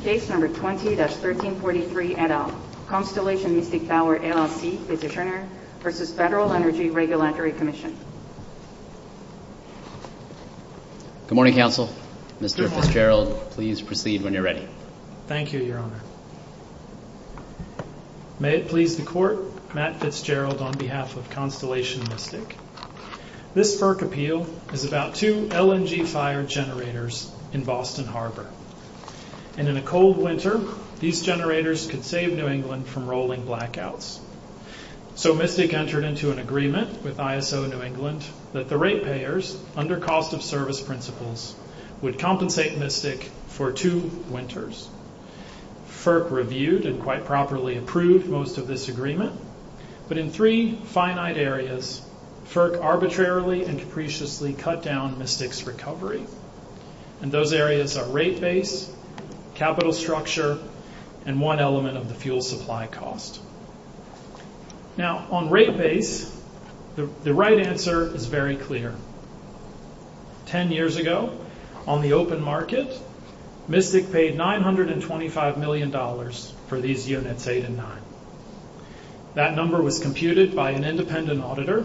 State number 20-1343 et al. Constellation Mystic Power LLC petitioner v. Federal Energy Regulatory Commission Good morning, Counsel. Mr. Fitzgerald, please proceed when you're ready. Thank you, Your Honor. May it please the Court, Matt Fitzgerald on behalf of Constellation Mystic. This FERC appeal is about two LNG fire generators in Boston Harbor. And in a cold winter, these generators could save New England from rolling blackouts. So Mystic entered into an agreement with ISO New England that the rate payers, under cost of service principles, would compensate Mystic for two winters. FERC reviewed and quite properly approved most of this agreement. But in three finite areas, FERC arbitrarily and capriciously cut down Mystic's recovery. And those areas are rate base, capital structure, and one element of the fuel supply cost. Now, on rate base, the right answer is very clear. Ten years ago, on the open market, Mystic paid $925 million for these units, eight and nine. That number was computed by an independent auditor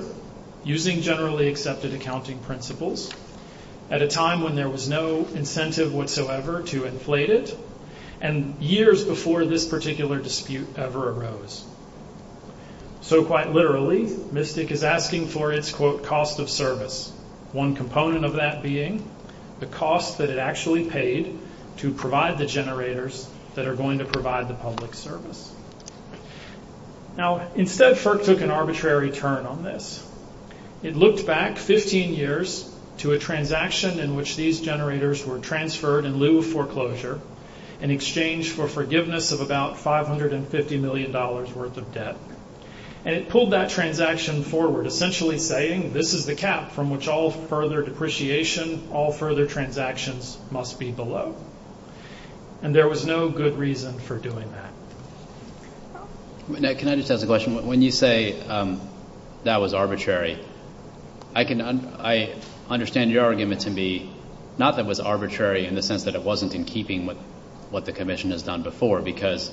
using generally accepted accounting principles at a time when there was no incentive whatsoever to inflate it, and years before this particular dispute ever arose. So quite literally, Mystic is asking for its, quote, cost of service. One component of that being the cost that it actually paid to provide the generators that are going to provide the public service. Now, instead, FERC took an arbitrary turn on this. It looked back 15 years to a transaction in which these generators were transferred in lieu of foreclosure in exchange for forgiveness of about $550 million worth of debt. And it pulled that transaction forward, essentially saying, this is the cap from which all further depreciation, all further transactions must be below. And there was no good reason for doing that. Now, can I just ask a question? When you say that was arbitrary, I understand your argument to be not that it was arbitrary in the sense that it wasn't in keeping with what the Commission has done before, because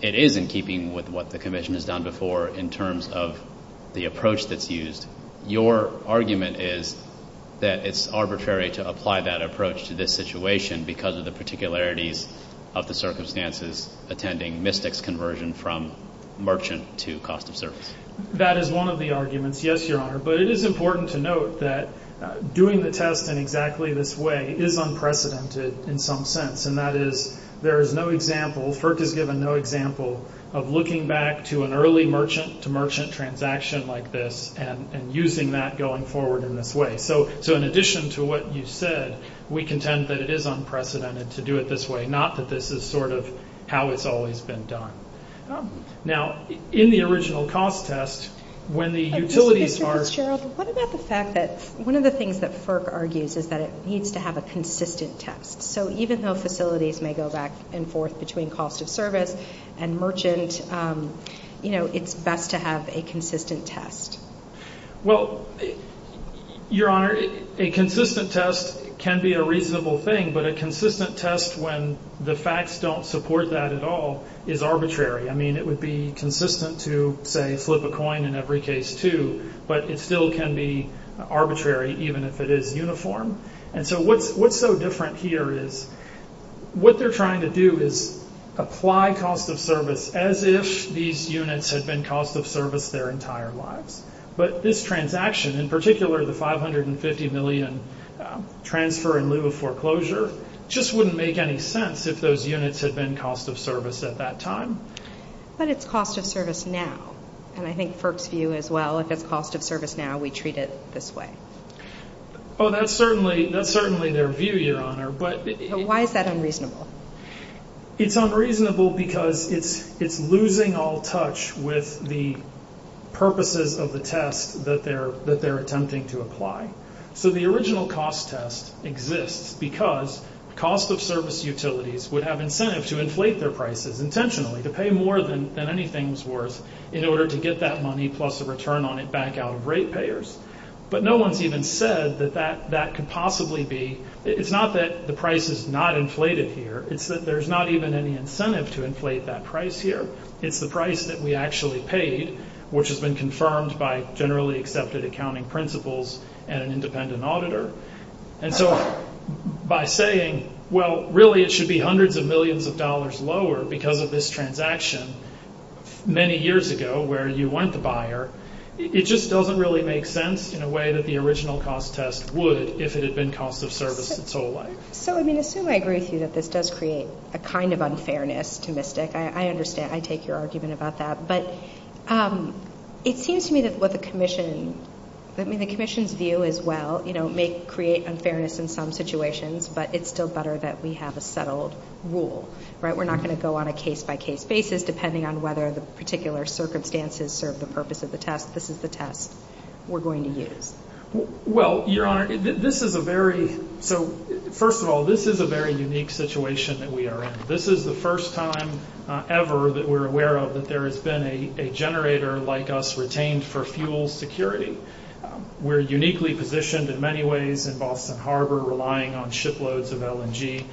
it is in keeping with what the Commission has done before in terms of the approach that's used. Your argument is that it's arbitrary to apply that approach to this situation because of the particularities of the circumstances attending Mystic's conversion from merchant to cost of service. That is one of the arguments, yes, Your Honor. But it is important to note that doing the test in exactly this way is unprecedented in some sense. And that is, there is no example, FERC has given no example of looking back to an early merchant-to-merchant transaction like this and using that going forward in this way. So, in addition to what you said, we contend that it is unprecedented to do it this way, not that this is sort of how it's always been done. Now, in the original cost test, when the utilities are- What about the fact that one of the things that FERC argues is that it needs to have a consistent test? So, even though facilities may go back and forth between cost of service and merchant, you know, it's best to have a consistent test. Well, Your Honor, a consistent test can be a reasonable thing, but a consistent test when the facts don't support that at all is arbitrary. I mean, it would be consistent to, say, flip a coin in every case too, but it still can be arbitrary even if it is uniform. And so, what's so different here is, what they're trying to do is apply cost of service as if these units had been cost of service their entire lives. But this transaction, in particular the $550 million transfer in lieu of foreclosure, just wouldn't make any sense if those units had been cost of service at that time. But it's cost of service now, and I think FERC's view as well, if it's cost of service now, we treat it this way. Oh, that's certainly their view, Your Honor, but... So, why is that unreasonable? It's unreasonable because it's losing all touch with the purposes of the test that they're attempting to apply. So, the original cost test exists because cost of service utilities would have incentive to inflate their prices intentionally, to pay more than anything's worth in order to get that money plus a return on it back out of rate payers. But no one's even said that that could possibly be... It's not that the price is not inflated here, it's that there's not even any incentive to inflate that price here. It's the price that we actually pay, which has been confirmed by generally accepted accounting principles and an independent auditor. And so, by saying, well, really it should be hundreds of millions of dollars lower because of this transaction many years ago where you want the buyer, it just doesn't really make sense in a way that the original cost test would if it had been cost of service its whole life. So, I mean, I assume I agree with you that this does create a kind of unfairness to MISTIC. I understand. I take your argument about that. But it seems to me that what the commission... I mean, the commission's view as well, you know, may create unfairness in some situations, but it's still better that we have a settled rule, right? Well, Your Honor, this is a very... So, first of all, this is a very unique situation that we are in. This is the first time ever that we're aware of that there has been a generator like us retained for fuel security. We're uniquely positioned in many ways in Boston Harbor relying on shiploads of LNG.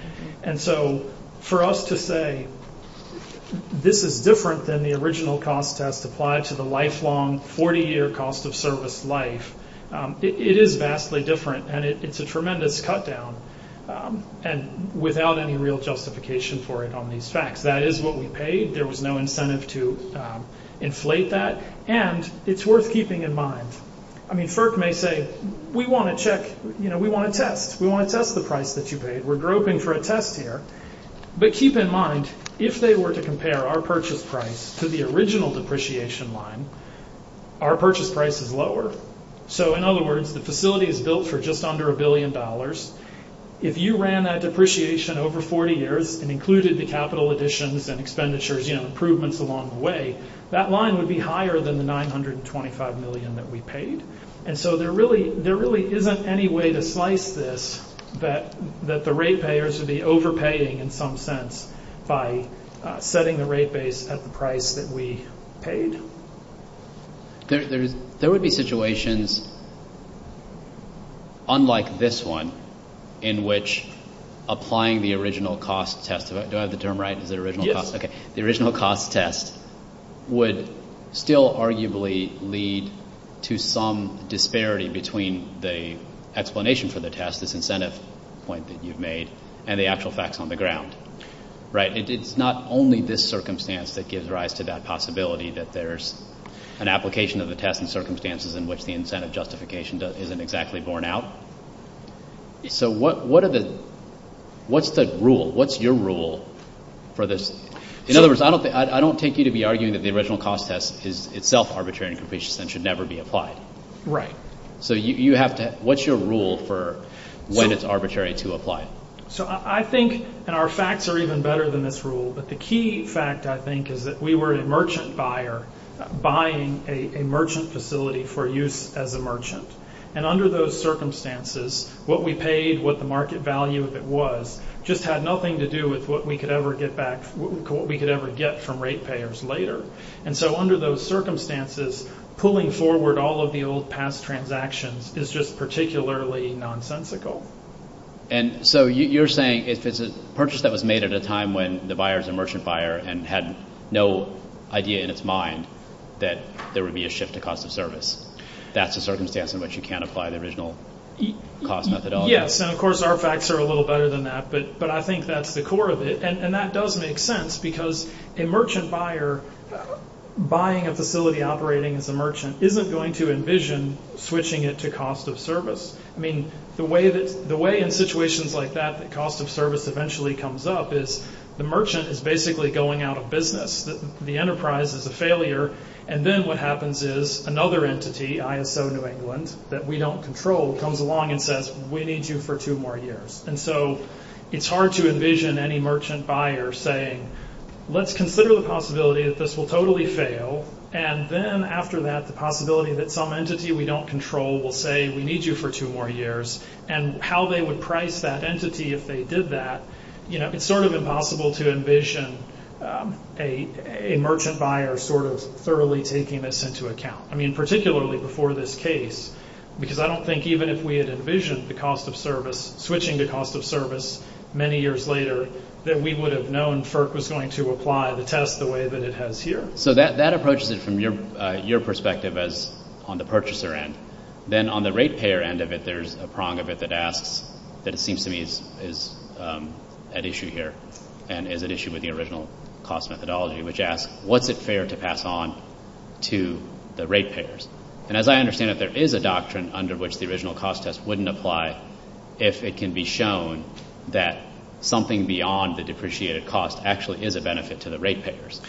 And so, for us to say this is different than the original cost test applied to the lifelong 40-year cost of service life, it is vastly different. And it's a tremendous cut down and without any real justification for it on these facts. That is what we paid. There was no incentive to inflate that. And it's worth keeping in mind. I mean, FERC may say, we want to check, you know, we want to test. We want to test the price that you paid. We're groping for a test here. But keep in mind, if they were to compare our purchase price to the original depreciation line, our purchase price is lower. So, in other words, the facility is built for just under a billion dollars. If you ran that depreciation over 40 years and included the capital additions and expenditures, you know, improvements along the way, that line would be higher than the $925 million that we paid. And so, there really isn't any way to slice this that the rate payers would be overpaying in some sense by setting the rate base at the price that we paid. There would be situations, unlike this one, in which applying the original cost test, would still arguably lead to some disparity between the explanation for the test, this incentive point that you've made, and the actual facts on the ground. Right. It's not only this circumstance that gives rise to that possibility that there's an application of the test and circumstances in which the incentive justification isn't exactly borne out. So, what's the rule? What's your rule for this? In other words, I don't take you to be arguing that the original cost test is itself arbitrary and should never be applied. Right. So, what's your rule for when it's arbitrary to apply it? So, I think, and our facts are even better than this rule, but the key fact, I think, is that we were a merchant buyer buying a merchant facility for use as a merchant. And under those circumstances, what we paid, what the market value of it was, just had nothing to do with what we could ever get back, what we could ever get from rate payers later. And so, under those circumstances, pulling forward all of the old past transactions is just particularly nonsensical. And so, you're saying if it's a purchase that was made at a time when the buyer is a merchant buyer and had no idea in his mind that there would be a shift to cost of service. That's a circumstance in which you can't apply the original cost methodology. Yes, and of course, our facts are a little better than that, but I think that's the core of it. And that does make sense because a merchant buyer buying a facility operating as a merchant isn't going to envision switching it to cost of service. I mean, the way in situations like that that cost of service eventually comes up is the merchant is basically going out of business. The enterprise is a failure, and then what happens is another entity, ISO New England, that we don't control, comes along and says, we need you for two more years. And so, it's hard to envision any merchant buyer saying, let's consider the possibility that this will totally fail, and then after that, the possibility that some entity we don't control will say, we need you for two more years, and how they would price that entity if they did that, you know, it's sort of impossible to envision a merchant buyer sort of thoroughly taking this into account. I mean, particularly before this case, because I don't think even if we had envisioned the cost of service, switching to cost of service many years later, that we would have known FERC was going to apply the test the way that it has here. So, that approaches it from your perspective as on the purchaser end. Then on the rate payer end of it, there's a prong of it that asks, that it seems to me is at issue here, and is at issue with the original cost methodology, which asks, what's it fair to pass on to the rate payers? And as I understand it, there is a doctrine under which the original cost test wouldn't apply if it can be shown that something beyond the depreciated cost actually is a benefit to the rate payers.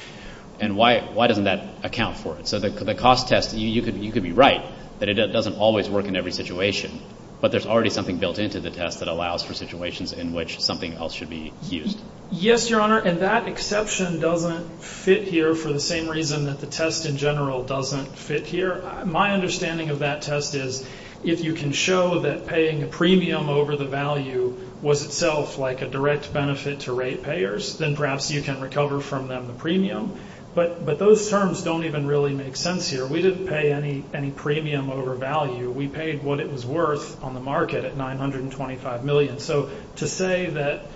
And why doesn't that account for it? So, the cost test, you could be right that it doesn't always work in every situation, but there's already something built into the test that allows for situations in which something else should be used. Yes, Your Honor, and that exception doesn't fit here for the same reason that the test in general doesn't fit here. My understanding of that test is, if you can show that paying a premium over the value was itself like a direct benefit to rate payers, then perhaps you can recover from them the premium. But those terms don't even really make sense here. We didn't pay any premium over value. We paid what it was worth on the market at $925 million. So, to say that,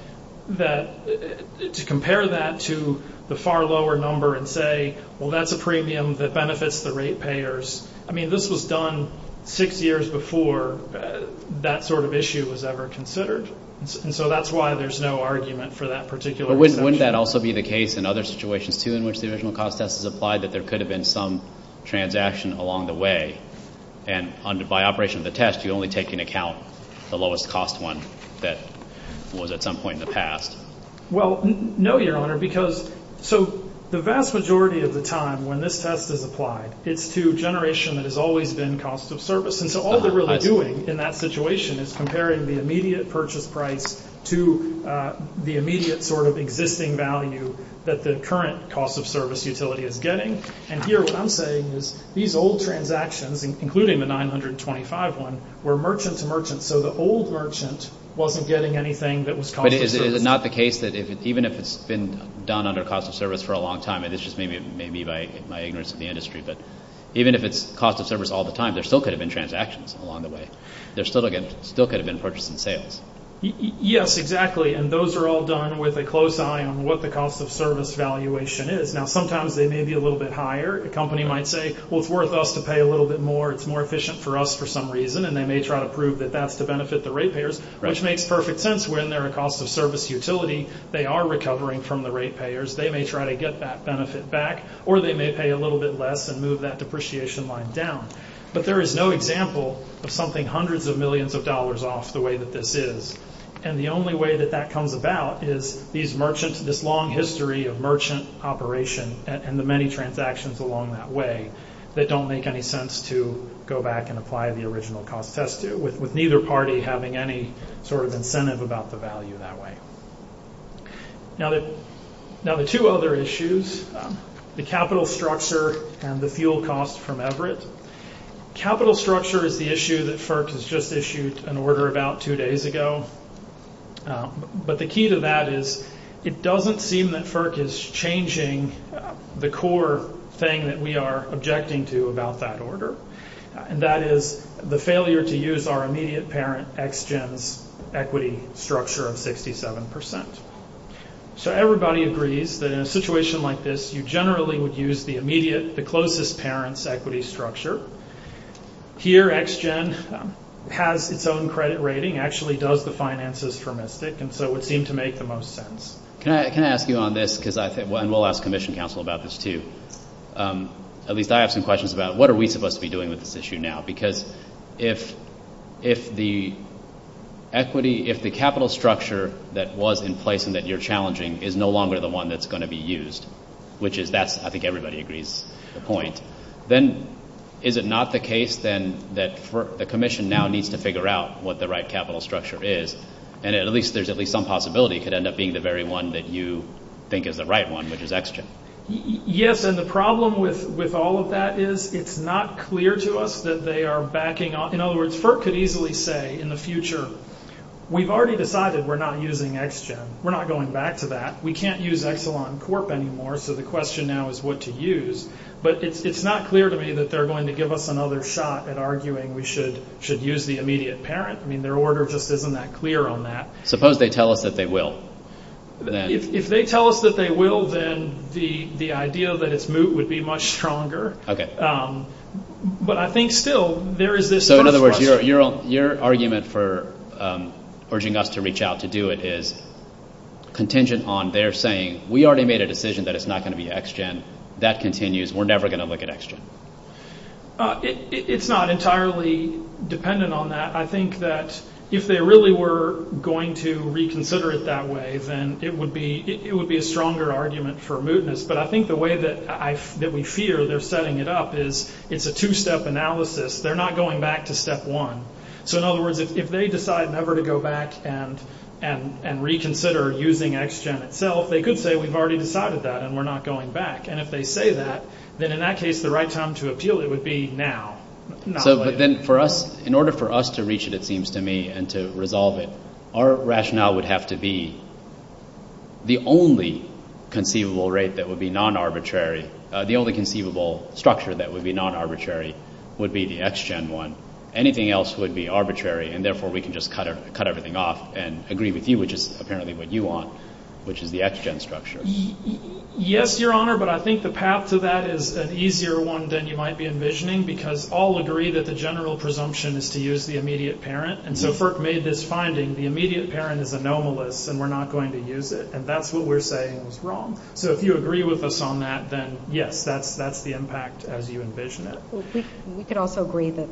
to compare that to the far lower number and say, well, that's a premium that benefits the rate payers, I mean, this was done six years before that sort of issue was ever considered. And so that's why there's no argument for that particular measure. But wouldn't that also be the case in other situations, too, in which the original cost test is applied, that there could have been some transaction along the way, and by operation of the test, you only take into account the lowest cost one that was at some point in the past? Well, no, Your Honor, because so the vast majority of the time when this test is applied, it's to generation that has always been cost of service. And so all they're really doing in that situation is comparing the immediate purchase price to the immediate sort of existing value that the current cost of service utility is getting. And here what I'm saying is these old transactions, including the $925 one, were merchant to merchant, so the old merchant wasn't getting anything that was cost of service. But is it not the case that even if it's been done under cost of service for a long time, and this just may be my ignorance of the industry, but even if it's cost of service all the time, there still could have been transactions along the way. There still could have been purchase and sales. Yes, exactly. And those are all done with a close eye on what the cost of service valuation is. Now, sometimes they may be a little bit higher. A company might say, well, it's worth us to pay a little bit more. It's more efficient for us for some reason. And they may try to prove that that's to benefit the rate payers, which makes perfect sense when they're a cost of service utility. They are recovering from the rate payers. They may try to get that benefit back, or they may pay a little bit less and move that depreciation line down. But there is no example of something hundreds of millions of dollars off the way that this is. And the only way that that comes about is these merchants, this long history of merchant operation and the many transactions along that way that don't make any sense to go back and apply the original cost test, with neither party having any sort of incentive about the value that way. Now, the two other issues, the capital structure and the fuel cost from Everett. Capital structure is the issue that FERC has just issued an order about two days ago. But the key to that is it doesn't seem that FERC is changing the core thing that we are objecting to about that order. And that is the failure to use our immediate parent, XGEN's equity structure of 67%. So everybody agrees that in a situation like this, you generally would use the immediate, the closest parent's equity structure. Here, XGEN has its own credit rating, actually does the finances for Mystic, and so it would seem to make the most sense. Can I ask you on this? And we'll ask Commission Council about this too. At least I have some questions about what are we supposed to be doing with this issue now? Because if the equity, if the capital structure that was in place and that you're challenging is no longer the one that's going to be used, which is that, I think everybody agrees, the point, then is it not the case then that the Commission now needs to figure out what the right capital structure is, and at least there's at least some possibility it could end up being the very one that you think is the right one, which is XGEN? Yes, and the problem with all of that is it's not clear to us that they are backing off. In other words, FERC could easily say in the future, we've already decided we're not using XGEN. We're not going back to that. We can't use Exelon Corp anymore, so the question now is what to use. But it's not clear to me that they're going to give us another shot at arguing we should use the immediate parent. I mean, their order just isn't that clear on that. Suppose they tell us that they will. If they tell us that they will, then the idea that it's moot would be much stronger. Okay. But I think still there is this... So, in other words, your argument for urging us to reach out to do it is contingent on their saying, we already made a decision that it's not going to be XGEN. That continues. We're never going to look at XGEN. It's not entirely dependent on that. I think that if they really were going to reconsider it that way, then it would be a stronger argument for mootness. But I think the way that we fear they're setting it up is it's a two-step analysis. They're not going back to step one. So, in other words, if they decide never to go back and reconsider using XGEN itself, they could say we've already decided that and we're not going back. And if they say that, then in that case, the right time to appeal it would be now. But then for us, in order for us to reach it, it seems to me, and to resolve it, our rationale would have to be the only conceivable rate that would be non-arbitrary, the only conceivable structure that would be non-arbitrary would be the XGEN one. Anything else would be arbitrary, and therefore we can just cut everything off and agree with you, which is apparently what you want, which is the XGEN structure. Yes, Your Honor, but I think the path to that is an easier one than you might be envisioning because all agree that the general presumption is to use the immediate parent, and so FERC made this finding, the immediate parent is anomalous and we're not going to use it, and that's what we're saying is wrong. So if you agree with us on that, then yes, that's the impact as you envision it. We could also agree that,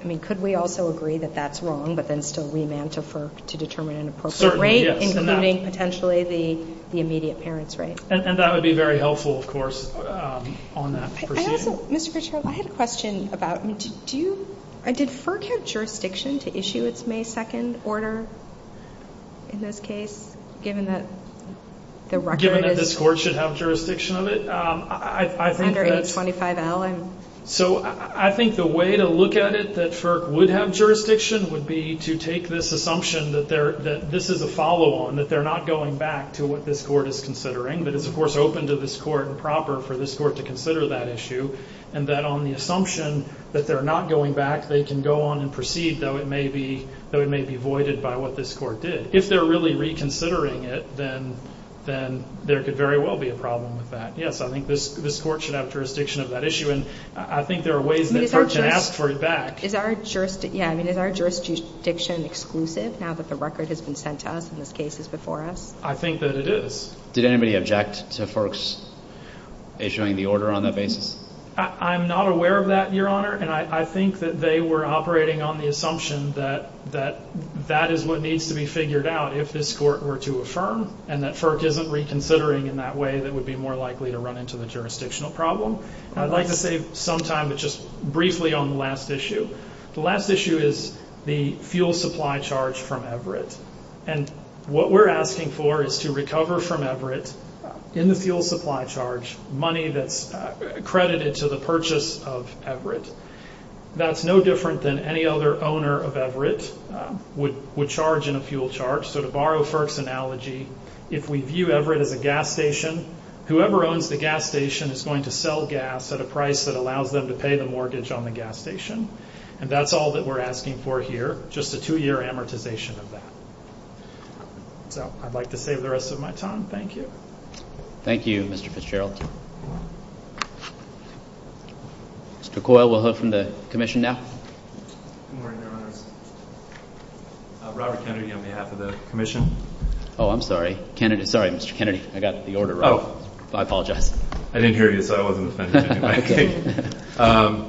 I mean, could we also agree that that's wrong, but then still re-manter FERC to determine an appropriate rate, including potentially the immediate parent's rate. And that would be very helpful, of course, on that. Mr. Grishkos, I had a question about, did FERC have jurisdiction to issue its May 2nd order in this case, given that the record is- Given that this Court should have jurisdiction of it? Under 25L. So I think the way to look at it, that FERC would have jurisdiction, would be to take this assumption that this is a follow-on, that they're not going back to what this Court is considering, that it's, of course, open to this Court and proper for this Court to consider that issue, and that on the assumption that they're not going back, they can go on and proceed, though it may be voided by what this Court did. If they're really reconsidering it, then there could very well be a problem with that. Yes, I think this Court should have jurisdiction of that issue, and I think there are ways that FERC can ask for it back. Is our jurisdiction exclusive now that the record has been sent to us and this case is before us? I think that it is. Did anybody object to FERC's issuing the order on that basis? I'm not aware of that, Your Honor, and I think that they were operating on the assumption that that is what needs to be figured out if this Court were to affirm and that FERC isn't reconsidering in that way that it would be more likely to run into the jurisdictional problem. I'd like to save some time, but just briefly, on the last issue. The last issue is the fuel supply charge from Everett. And what we're asking for is to recover from Everett, in the fuel supply charge, money that's credited to the purchase of Everett. That's no different than any other owner of Everett would charge in a fuel charge. So to borrow FERC's analogy, if we view Everett as a gas station, whoever owns the gas station is going to sell gas at a price that allows them to pay the mortgage on the gas station, and that's all that we're asking for here, just a two-year amortization of that. So I'd like to save the rest of my time. Thank you. Thank you, Mr. Fitzgerald. Mr. Coyle, we'll hear from the Commission now. Robert Kennedy on behalf of the Commission. Oh, I'm sorry. Kennedy, sorry, Mr. Kennedy. I got the order wrong. I apologize. I didn't hear you, so I wasn't listening. Okay.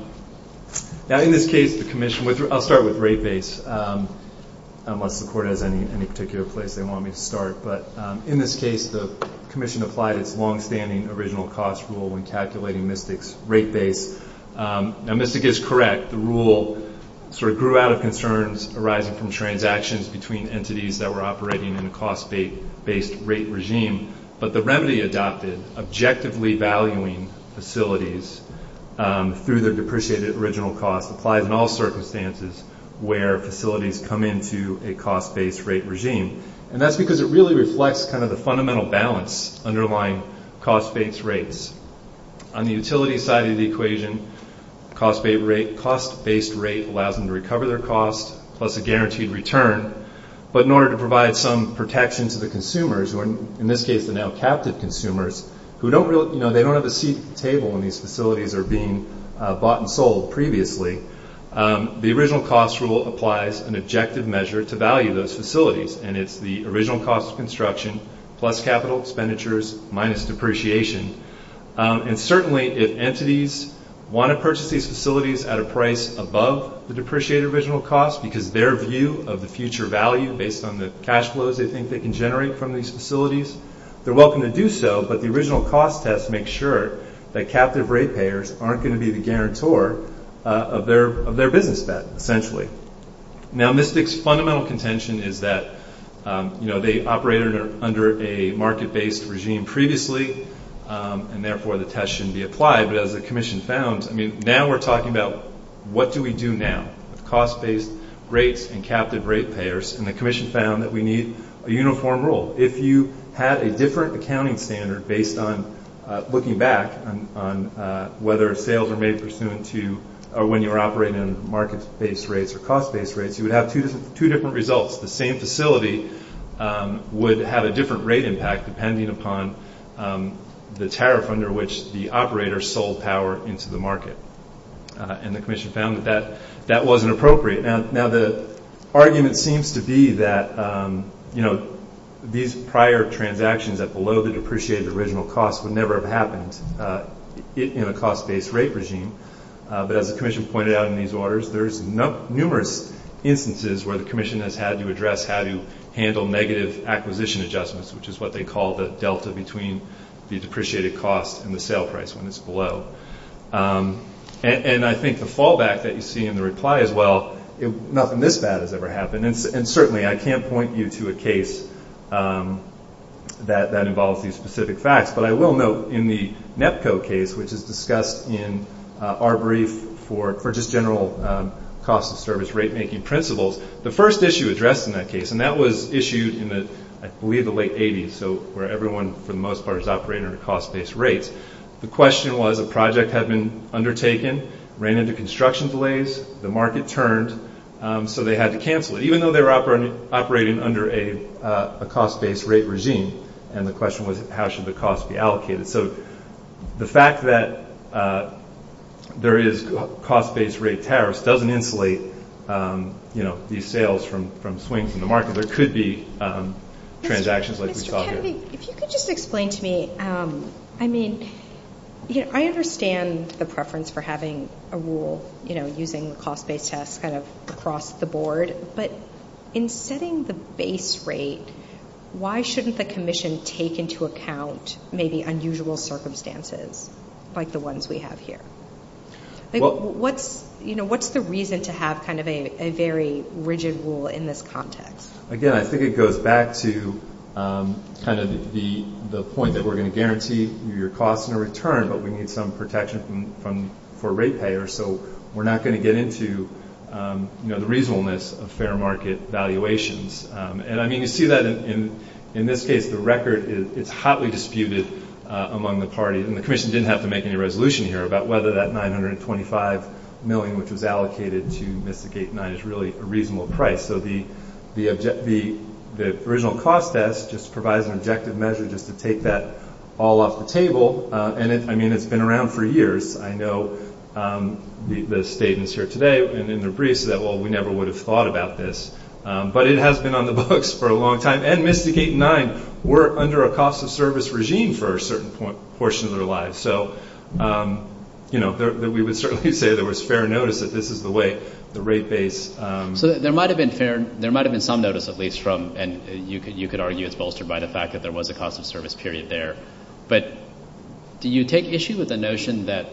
Now, in this case, the Commission, I'll start with rate base, unless the Court has any particular place they want me to start. But in this case, the Commission applied its longstanding original cost rule in calculating MISTIC's rate base. Now, MISTIC is correct. The rule sort of grew out of concerns arising from transactions between entities that were operating in a cost-based rate regime, but the remedy adopted objectively valuing facilities through the depreciated original cost applied in all circumstances where facilities come into a cost-based rate regime. And that's because it really reflects kind of the fundamental balance underlying cost-based rates. On the utility side of the equation, cost-based rate allows them to recover their cost plus a guaranteed return. But in order to provide some protection to the consumers, who in this case are now captive consumers, who don't have a seat at the table when these facilities are being bought and sold previously, the original cost rule applies an objective measure to value those facilities, and it's the original cost of construction plus capital expenditures minus depreciation. And certainly, if entities want to purchase these facilities at a price above the depreciated original cost because their view of the future value based on the cash flows they think they can generate from these facilities, they're welcome to do so, but the original cost test makes sure that captive rate payers aren't going to be the guarantor of their business, essentially. Now, MISTIC's fundamental contention is that they operated under a market-based regime previously, and therefore the test shouldn't be applied. But as the Commission found, now we're talking about what do we do now? Cost-based rates and captive rate payers, and the Commission found that we need a uniform rule. If you had a different accounting standard based on looking back on whether sales are made pursuant to or when you're operating in market-based rates or cost-based rates, you would have two different results. The same facility would have a different rate impact depending upon the tariff under which the operator sold power into the market. And the Commission found that that wasn't appropriate. Now, the argument seems to be that, you know, these prior transactions that below the depreciated original cost would never have happened in a cost-based rate regime. But as the Commission pointed out in these orders, there's numerous instances where the Commission has had to address how to handle negative acquisition adjustments, which is what they call the delta between the depreciated cost and the sale price when it's below. And I think the fallback that you see in the reply is, well, nothing this bad has ever happened. And certainly I can't point you to a case that involves these specific facts. But I will note in the NEPCO case, which is discussed in our brief for just general cost-of-service rate-making principles, the first issue addressed in that case, and that was issues in, I believe, the late 80s, so where everyone for the most part is operating under cost-based rates. The question was a project had been undertaken, ran into construction delays, the market turned, so they had to cancel it, even though they were operating under a cost-based rate regime. And the question was, how should the cost be allocated? So the fact that there is cost-based rate tariffs doesn't inflate these sales from swings in the market, but it could be transactions like we saw here. If you could just explain to me, I mean, I understand the preference for having a rule, you know, using the cost-based test kind of across the board, but in setting the base rate, why shouldn't the commission take into account maybe unusual circumstances like the ones we have here? You know, what's the reason to have kind of a very rigid rule in this context? Again, I think it goes back to kind of the point that we're going to guarantee your costs in return, but we need some protection for rate payers, so we're not going to get into, you know, the reasonableness of fair market valuations. And, I mean, you see that in this case. The record is hotly disputed among the parties, and the commission didn't have to make any resolution here about whether that $925 million, which was allocated to Mystic Gate 9, is really a reasonable price. So the original cost test just provides an objective measure just to take that all off the table. And, I mean, it's been around for years. I know the statements here today and in the briefs that, well, we never would have thought about this. But it has been on the books for a long time, and Mystic Gate 9 were under a cost of service regime for a certain portion of their lives. So, you know, we would certainly say there was fair notice that this is the way the rate base. So there might have been some notice, at least, from, and you could argue it's bolstered by the fact that there was a cost of service period there. But do you take issue with the notion that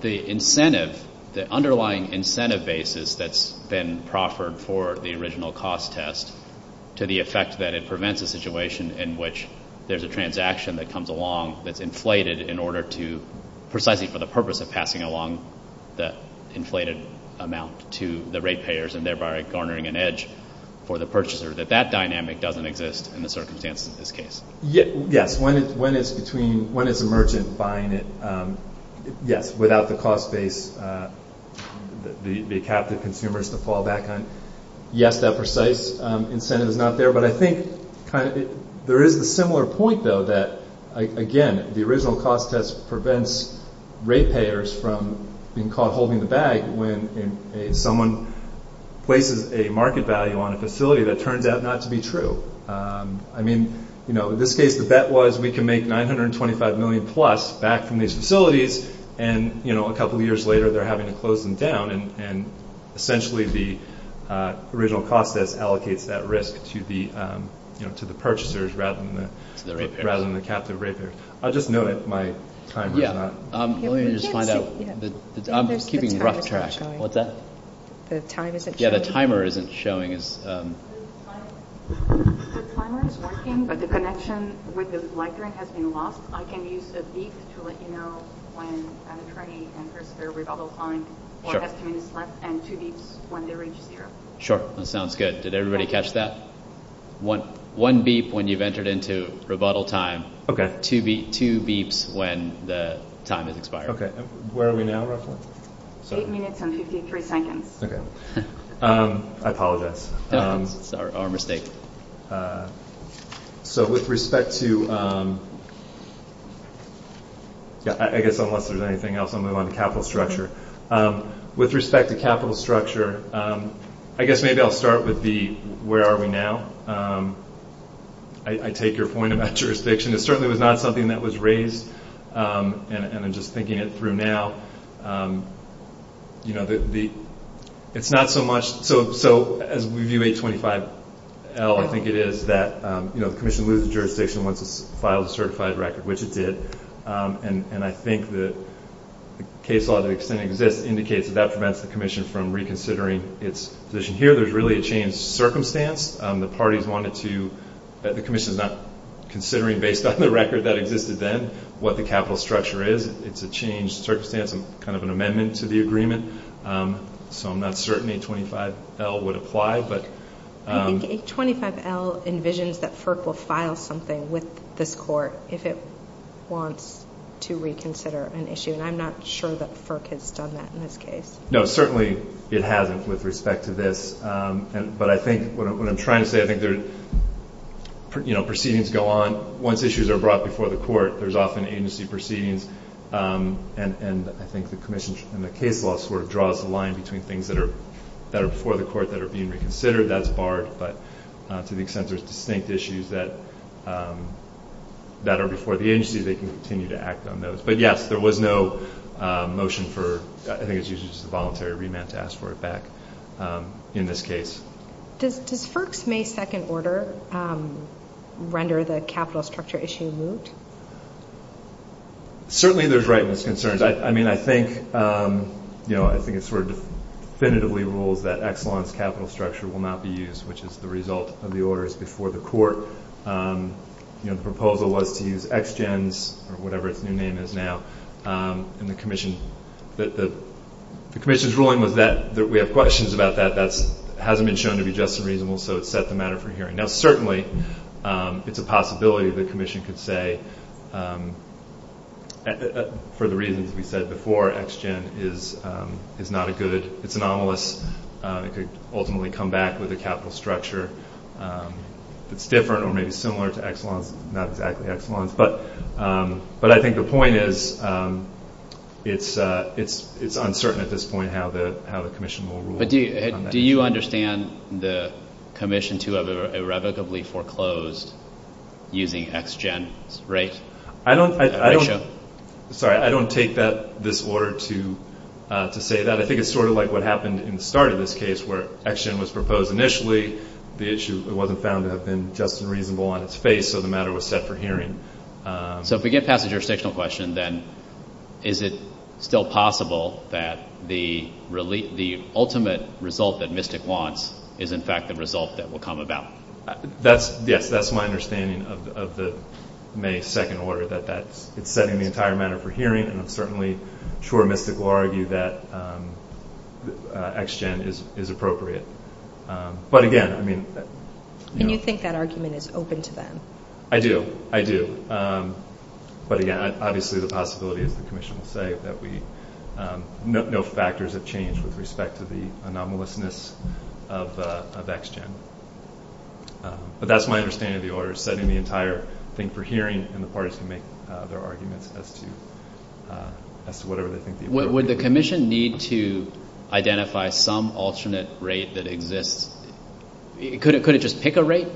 the incentive, the underlying incentive basis that's been proffered for the original cost test to the effect that it prevents a situation in which there's a transaction that comes along that's inflated in order to, precisely for the purpose of passing along the inflated amount to the rate payers and thereby garnering an edge for the purchaser, that that dynamic doesn't exist in the circumstances of this case? Yes, when it's between, when it's a merchant buying it, yes, without the cost base, the captive consumers to fall back on. Yes, that precise incentive is not there. But I think there is a similar point, though, that, again, the original cost test prevents rate payers from being caught holding the bag when someone places a market value on a facility that turned out not to be true. I mean, you know, in this case the bet was we can make $925 million plus back from these facilities and, you know, a couple of years later they're having to close them down and essentially the original cost test allocates that risk to the, you know, to the purchasers rather than the captive rate payers. Yes, let me just find out. I'm just keeping rough track. What's that? The timer isn't showing. Yes, the timer isn't showing. Sure, that sounds good. Did everybody catch that? One beef when you've entered into rebuttal time. Okay. Two beefs when the time has expired. Okay. Where are we now, Russell? Eight minutes and 53 seconds. Okay. I apologize. It's our mistake. So with respect to... I guess unless there's anything else I'll move on to capital structure. With respect to capital structure, I guess maybe I'll start with the where are we now. I take your point about jurisdiction. It certainly was not something that was raised, and I'm just thinking it through now. It's not so much... So as we view 825L, I think it is that, you know, the commission loses jurisdiction once it's filed a certified record, which it did, and I think the case law that exists indicates that that prevents the commission from reconsidering its position here. There's really a changed circumstance. The parties wanted to... The commission is not considering, based on the record that existed then, what the capital structure is. It's a changed circumstance and kind of an amendment to the agreement, so I'm not certain 825L would apply, but... I think 825L envisions that FERC will file something with this court if it wants to reconsider an issue, and I'm not sure that FERC has done that in this case. No, certainly it hasn't with respect to this, but I think what I'm trying to say, I think there are, you know, proceedings go on. Once issues are brought before the court, there's often agency proceedings, and I think the commission and the case law sort of draws a line between things that are before the court that are being reconsidered. That's barred, but to the extent there's distinct issues that are before the agency, they can continue to act on those. But, yes, there was no motion for... to ask for it back in this case. Does FERC's May 2nd order render the capital structure issue moot? Certainly there's rightness concerns. I mean, I think, you know, I think it's sort of definitively ruled that Exelon's capital structure will not be used, which is the result of the orders before the court. You know, the proposal was to use ExGen's, or whatever its new name is now, and the commission's ruling was that we have questions about that. That hasn't been shown to be just and reasonable, so it's set the matter for hearing. Now, certainly it's a possibility the commission could say, for the reasons we said before, ExGen is not a good, it's anomalous. It could ultimately come back with a capital structure that's different or maybe similar to Exelon's, not exactly Exelon's. But I think the point is it's uncertain at this point how the commission will rule. But do you understand the commission to have irrevocably foreclosed using ExGen rates? I don't take this order to say that. I think it's sort of like what happened in the start of this case, where ExGen was proposed initially. The issue wasn't found to have been just and reasonable on its face, so the matter was set for hearing. So if we get past your sectional question, then is it still possible that the ultimate result that MISTIC wants is in fact the result that will come about? Yes, that's my understanding of the May 2nd order, that it's setting the entire matter for hearing, and certainly Troy MISTIC will argue that ExGen is appropriate. And you think that argument is open to them? I do, I do. But again, obviously the possibility of the commission to say that no factors have changed with respect to the anomalousness of ExGen. But that's my understanding of the order, setting the entire thing for hearing, and the parties can make their arguments as to whatever they think the order is. Would the commission need to identify some alternate rate that exists? Could it just pick a rate,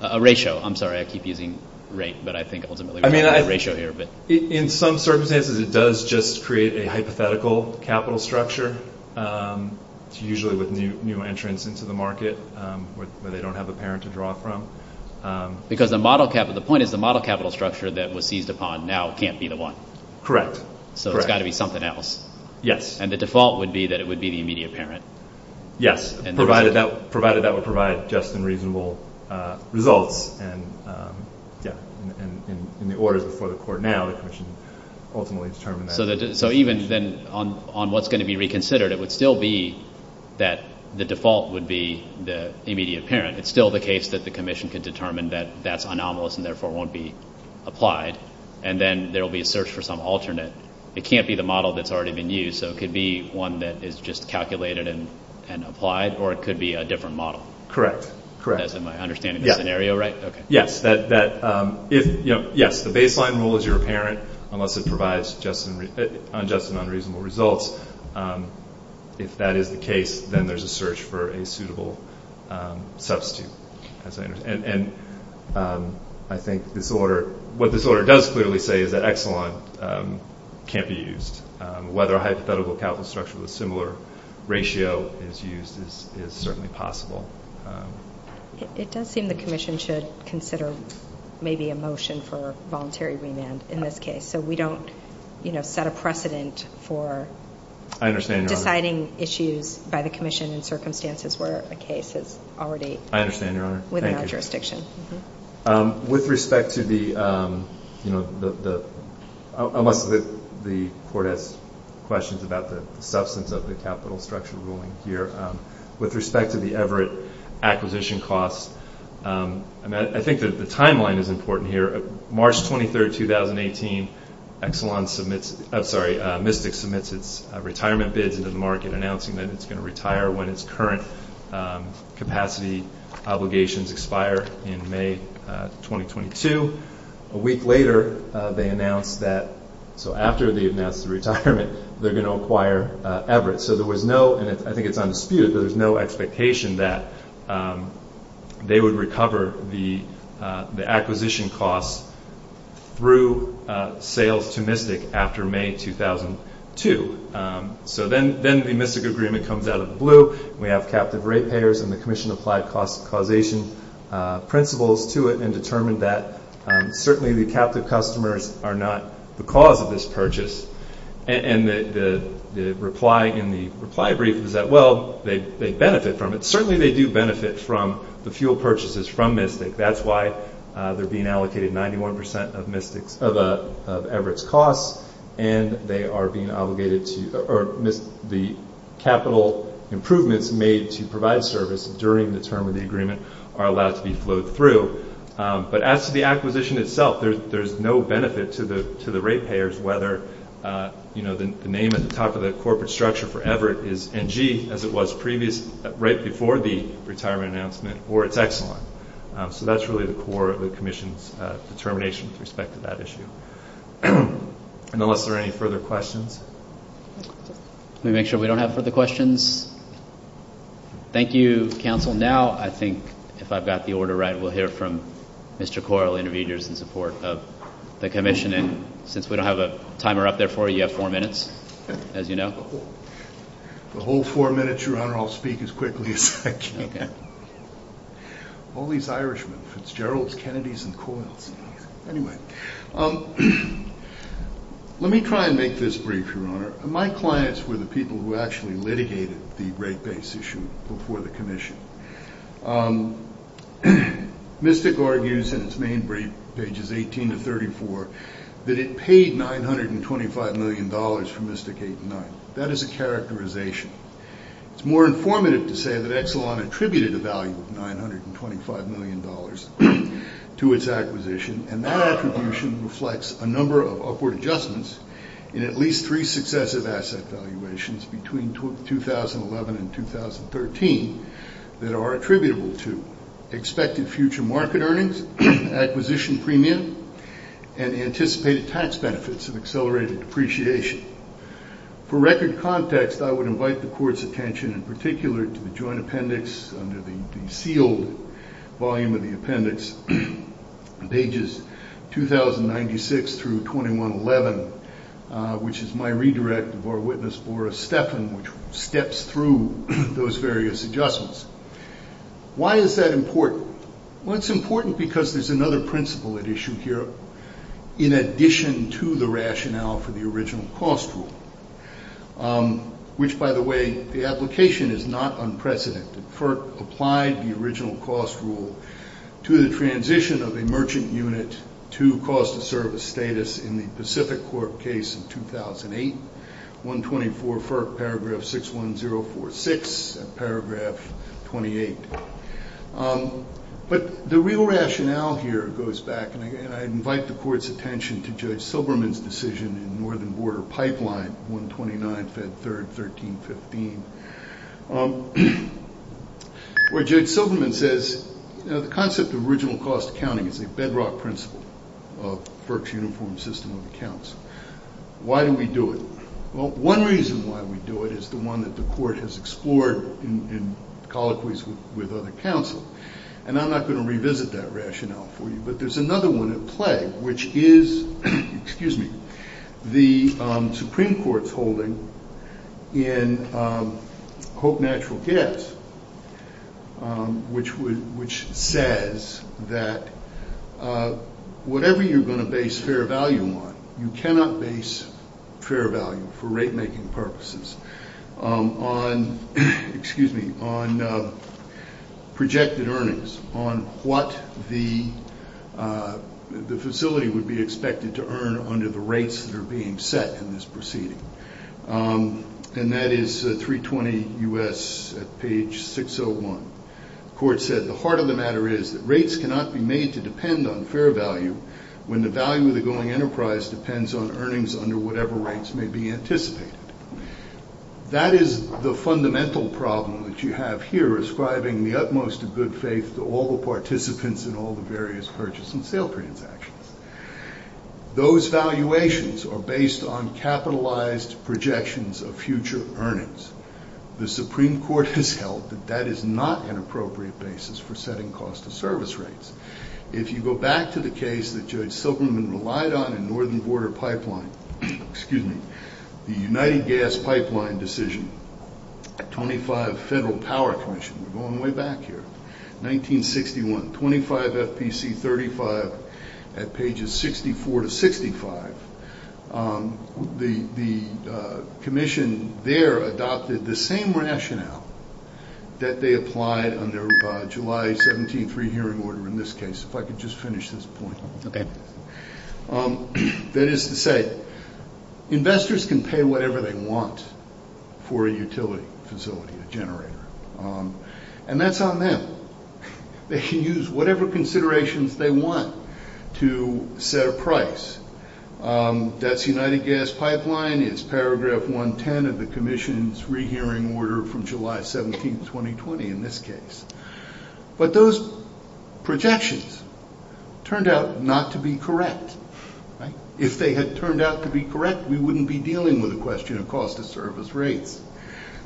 a ratio? I'm sorry, I keep using rate, but I think ultimately we have a ratio here. In some circumstances it does just create a hypothetical capital structure, usually with new entrants into the market where they don't have a parent to draw from. Because the point is the model capital structure that was seized upon now can't be the one. Correct. So it's got to be something else. Yes. And the default would be that it would be the immediate parent. Yes, provided that would provide just and reasonable results. And in the orders before the court now, the commission ultimately determined that. So even then on what's going to be reconsidered, it would still be that the default would be the immediate parent. It's still the case that the commission could determine that that's anomalous and therefore won't be applied. And then there will be a search for some alternate. It can't be the model that's already been used, so it could be one that is just calculated and applied, or it could be a different model. Correct. That's my understanding of the scenario, right? Yes. The baseline rule is your parent unless it provides just and unreasonable results. If that is the case, then there's a search for a suitable substitute. And I think this order – what this order does clearly say is that Exelon can't be used. Whether a hypothetical account structure with a similar ratio is used is certainly possible. It does seem the commission should consider maybe a motion for voluntary remand in this case, so we don't set a precedent for deciding issues by the commission in circumstances where a case is already within our jurisdiction. I understand, Your Honor. Thank you. With respect to the – unless the court has questions about the substance of the capital structure ruling here. With respect to the Everett acquisition costs, I think the timeline is important here. March 23, 2018, Exelon submits – I'm sorry, when its current capacity obligations expire in May 2022. A week later, they announce that – so after they announce the retirement, they're going to acquire Everett. So there was no – and I think it's undisputed – there was no expectation that they would recover the acquisition costs through sales to MISTIC after May 2002. So then the MISTIC agreement comes out of the blue. We have captive rate payers and the commission applied causation principles to it and determined that certainly the captive customers are not the cause of this purchase. And the reply in the reply brief is that, well, they benefit from it. Certainly they do benefit from the fuel purchases from MISTIC. That's why they're being allocated 91 percent of Everett's costs, and they are being obligated to – or the capital improvements made to provide service during the term of the agreement are allowed to be flowed through. But as to the acquisition itself, there's no benefit to the rate payers, whether the name at the top of the corporate structure for Everett is NG, as it was previous – right before the retirement announcement, or it's Exelon. So that's really the core of the commission's determination with respect to that issue. Unless there are any further questions. Let me make sure we don't have further questions. Thank you, counsel. Now I think if I've got the order right, we'll hear from Mr. Coyle, interviewer in support of the commission. And since we don't have a timer up there for you, you have four minutes, as you know. The whole four minutes, Your Honor, I'll speak as quickly as I can. All these Irishmen, Fitzgeralds, Kennedys, and Coyles. Anyway. Let me try and make this brief, Your Honor. My clients were the people who actually litigated the rate base issue before the commission. Mystic argues in its main pages 18 to 34 that it paid $925 million for Mystic 8 to 9. That is a characterization. It's more informative to say that Exelon attributed a value of $925 million to its acquisition, and that attribution reflects a number of upward adjustments in at least three successive asset valuations between 2011 and 2013 that are attributable to expected future market earnings, acquisition premium, and the anticipated tax benefits of accelerated depreciation. For record context, I would invite the Court's attention in particular to the joint appendix under the sealed volume of the appendix, pages 2096 through 2111, which is my redirect of our witness, Laura Steffen, which steps through those various adjustments. Why is that important? Well, it's important because there's another principle at issue here in addition to the rationale for the original cost rule, which, by the way, the application is not unprecedented. FERC applied the original cost rule to the transition of a merchant unit to cost of service status in the Pacific Corp case in 2008, 124 FERC paragraph 61046, paragraph 28. But the real rationale here goes back, and I invite the Court's attention to Judge Silberman's decision in the Northern Border Pipeline, 129 Fed 3rd, 1315, where Judge Silberman says, you know, the concept of original cost accounting is a bedrock principle of FERC's uniform system of accounts. Why do we do it? Well, one reason why we do it is the one that the Court has explored in colloquies with other counsel, and I'm not going to revisit that rationale for you, but there's another one at play, which is the Supreme Court's holding in Hope Natural Gas, which says that whatever you're going to base fair value on, you cannot base fair value for rate-making purposes on projected earnings, on what the facility would be expected to earn under the rates that are being set in this proceeding. And that is 320 U.S. at page 601. The Court said, the heart of the matter is that rates cannot be made to depend on fair value when the value of the going enterprise depends on earnings under whatever rates may be anticipated. That is the fundamental problem that you have here, ascribing the utmost of good faith to all the participants in all the various purchase and sale transactions. Those valuations are based on capitalized projections of future earnings. The Supreme Court has held that that is not an appropriate basis for setting cost of service rates. If you go back to the case that Judge Silverman relied on in Northern Border Pipeline, excuse me, the United Gas Pipeline decision, 25 Federal Power Commission, we're going way back here, 1961, 25 FPC 35 at pages 64 to 65, the commission there adopted the same rationale that they applied under July 17th rehearing order in this case. If I could just finish this point. That is to say, investors can pay whatever they want for a utility facility, a generator. And that's on them. They can use whatever considerations they want to set a price. That's United Gas Pipeline. It's paragraph 110 of the commission's rehearing order from July 17th, 2020 in this case. But those projections turned out not to be correct. If they had turned out to be correct, we wouldn't be dealing with a question of cost of service rate.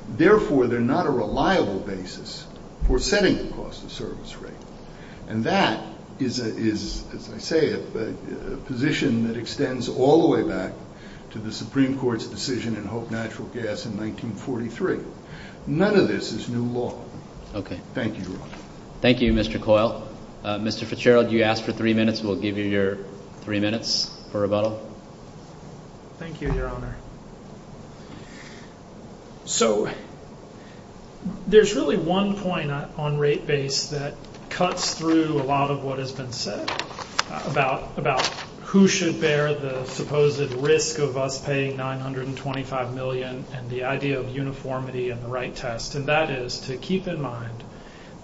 Therefore, they're not a reliable basis for setting the cost of service rate. And that is, as I say, a position that extends all the way back to the Supreme Court's decision in Hope Natural Gas in 1943. None of this is new law. Okay. Thank you. Thank you, Mr. Coyle. Mr. Fitzgerald, you asked for three minutes. We'll give you your three minutes for rebuttal. Thank you, Your Honor. So, there's really one point on rate base that cuts through a lot of what has been said about who should bear the supposed risk of us paying $925 million and the idea of uniformity and the right test. And that is to keep in mind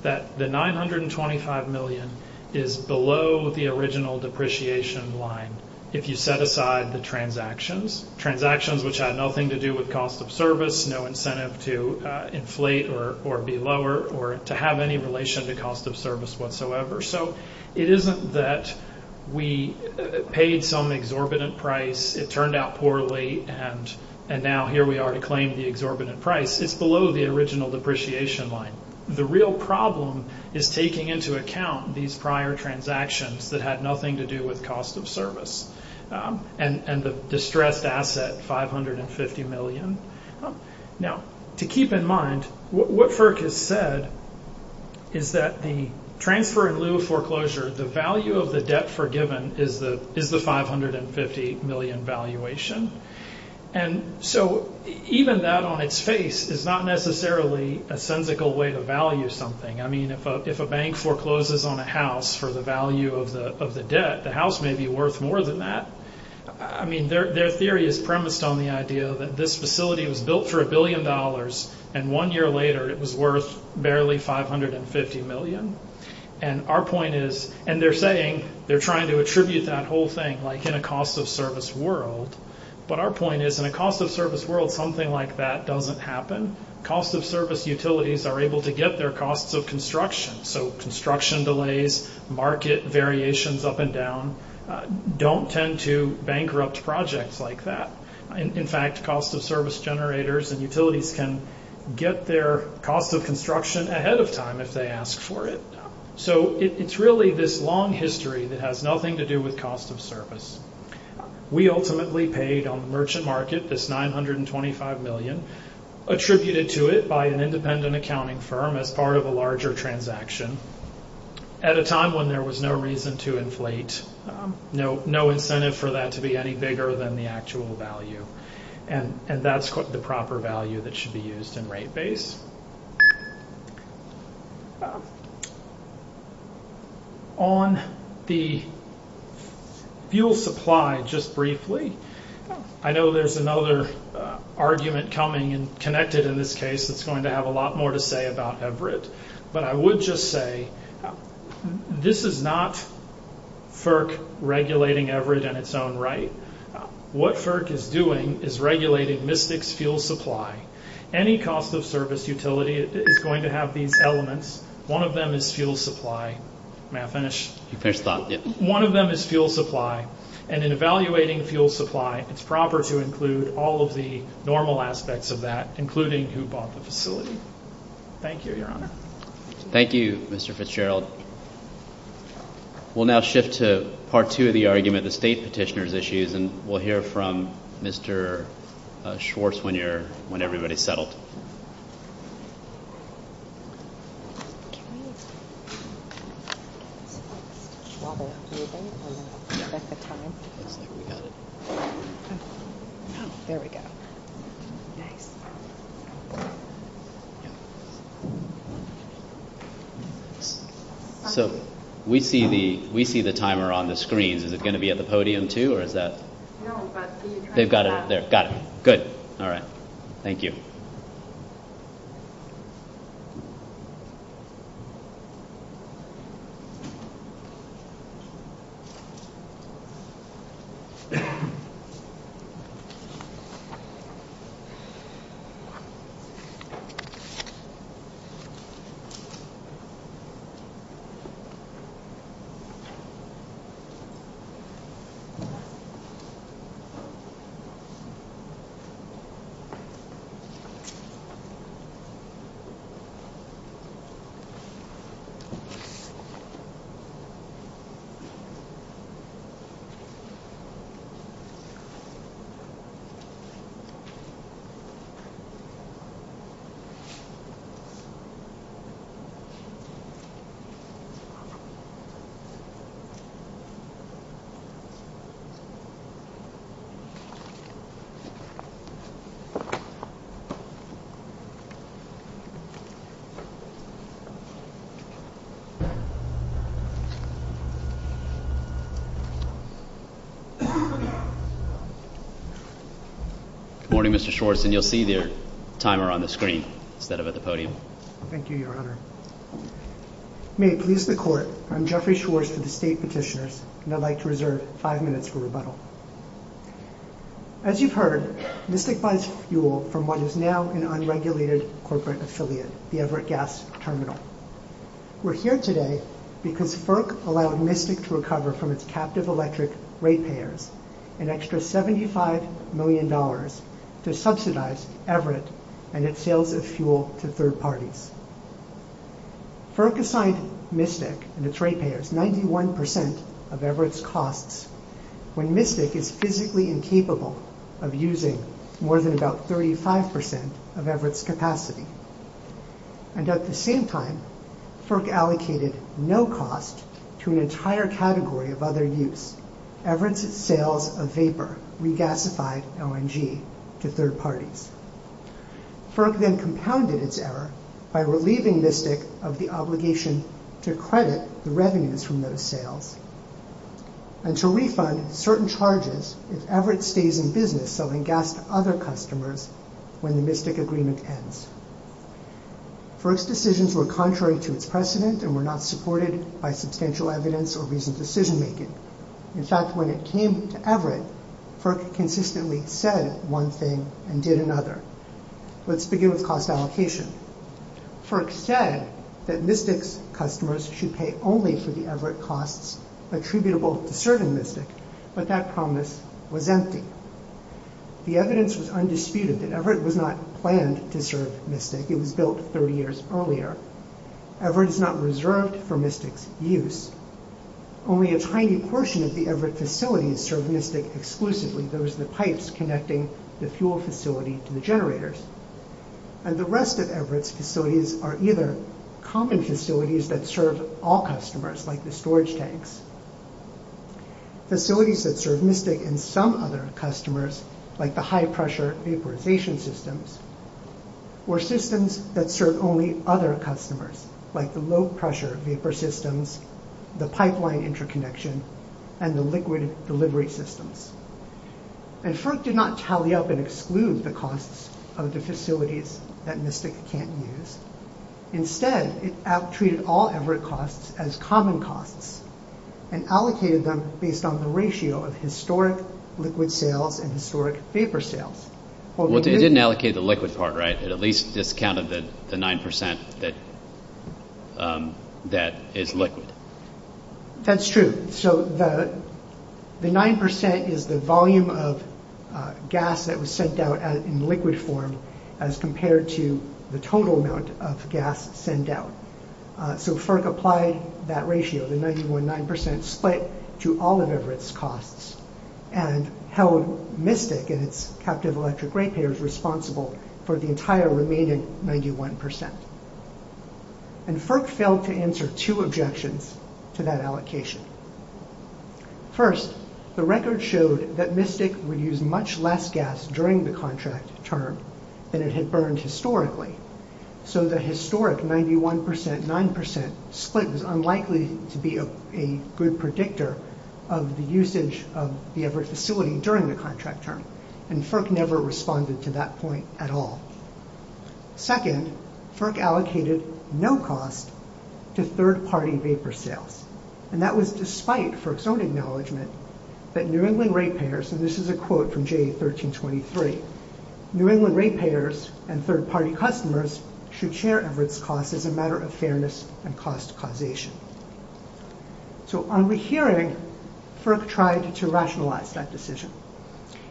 that the $925 million is below the original depreciation line if you set aside the transactions. Transactions which had nothing to do with cost of service, no incentive to inflate or be lower or to have any relation to cost of service whatsoever. So, it isn't that we paid some exorbitant price, it turned out poorly, and now here we are to claim the exorbitant price. It's below the original depreciation line. The real problem is taking into account these prior transactions that had nothing to do with cost of service and the distressed asset, $550 million. Now, to keep in mind, what FERC has said is that the transfer-in-lieu foreclosure, the value of the debt forgiven is the $550 million valuation. And so, even that on its face is not necessarily a syndical way to value something. I mean, if a bank forecloses on a house for the value of the debt, the house may be worth more than that. I mean, their theory is premised on the idea that this facility was built for a billion dollars and one year later it was worth barely $550 million. And our point is, and they're saying, they're trying to attribute that whole thing like in a cost-of-service world, but our point is in a cost-of-service world, something like that doesn't happen. Cost-of-service utilities are able to get their cost of construction. So, construction delays, market variations up and down don't tend to bankrupt projects like that. In fact, cost-of-service generators and utilities can get their cost of construction ahead of time if they ask for it. So, it's really this long history that has nothing to do with cost of service. We ultimately paid on merchant market this $925 million, attributed to it by an independent accounting firm as part of a larger transaction, at a time when there was no reason to inflate, no incentive for that to be any bigger than the actual value. And that's the proper value that should be used in rate base. On the fuel supply, just briefly, I know there's another argument coming and connected in this case that's going to have a lot more to say about Everitt. But I would just say, this is not FERC regulating Everitt in its own right. What FERC is doing is regulating MISTIC's fuel supply. Any cost-of-service utility is going to have these elements. One of them is fuel supply. May I finish? You can stop, yes. One of them is fuel supply. And in evaluating fuel supply, it's proper to include all of the normal aspects of that, including who bought the facility. Thank you, Your Honor. Thank you, Mr. Fitzgerald. We'll now shift to Part 2 of the argument, the state petitioner's issues, and we'll hear from Mr. Schwartz when everybody's settled. So we see the timer on the screen. Is it going to be at the podium, too, or is that? No, but we've got it. They've got it. Good. All right. Thank you. Thank you. Good morning, Mr. Schwartz. And you'll see the timer on the screen instead of at the podium. Thank you, Your Honor. May it please the Court, I'm Jeffrey Schwartz of the state petitioners, and I'd like to reserve five minutes for rebuttal. As you've heard, MISNIC buys fuel from what is now an unregulated corporate affiliate, the Everett Gas Terminal. We're here today because FERC allowed MISNIC to recover from its captive electric rate payers an extra $75 million to subsidize Everett and its sales of fuel to third parties. FERC assigned MISNIC and its rate payers 91% of Everett's costs when MISNIC is physically incapable of using more than about 35% of Everett's capacity. And at the same time, FERC allocated no cost to an entire category of other use. Everett's sales of vapor regasified LNG to third parties. FERC then compounded its error by relieving MISNIC of the obligation to credit the revenues from those sales. And to refund certain charges if Everett stays in business selling gas to other customers when the MISNIC agreement ends. FERC's decisions were contrary to its precedent and were not supported by substantial evidence or reasoned decision-making. In fact, when it came to Everett, FERC consistently said one thing and did another. Let's begin with cost allocation. FERC said that MISNIC's customers should pay only for the Everett costs attributable to serving MISNIC, but that promise was empty. The evidence was undisputed that Everett was not planned to serve MISNIC. It was built 30 years earlier. Everett is not reserved for MISNIC's use. Only a tiny portion of the Everett facilities serve MISNIC exclusively. There is the pipes connecting the fuel facility to the generators. And the rest of Everett's facilities are either common facilities that serve all customers, like the storage tanks, facilities that serve MISNIC and some other customers, like the high-pressure vaporization systems, or systems that serve only other customers, like the low-pressure vapor systems, the pipeline interconnection, and the liquid delivery systems. And FERC did not tally up and exclude the costs of the facilities that MISNIC can't use. Instead, it treated all Everett costs as common costs and allocated them based on the ratio of historic liquid sales and historic vapor sales. It didn't allocate the liquid part, right? It at least discounted the 9% that is liquid. That's true. So the 9% is the volume of gas that was sent out in liquid form as compared to the total amount of gas sent out. So FERC applied that ratio, the 99.9%, split to all of Everett's costs. And held MISNIC and its captive electric rate payers responsible for the entire remaining 91%. And FERC failed to answer two objections to that allocation. First, the record showed that MISNIC would use much less gas during the contract term than it had burned historically. So the historic 91%, 9% split was unlikely to be a good predictor of the usage of the Everett facility during the contract term. And FERC never responded to that point at all. Second, FERC allocated no cost to third-party vapor sales. And that was despite FERC's own acknowledgment that New England rate payers, and this is a quote from J1323, New England rate payers and third-party customers should share Everett's costs as a matter of fairness and cost causation. So on rehearing, FERC tried to rationalize that decision.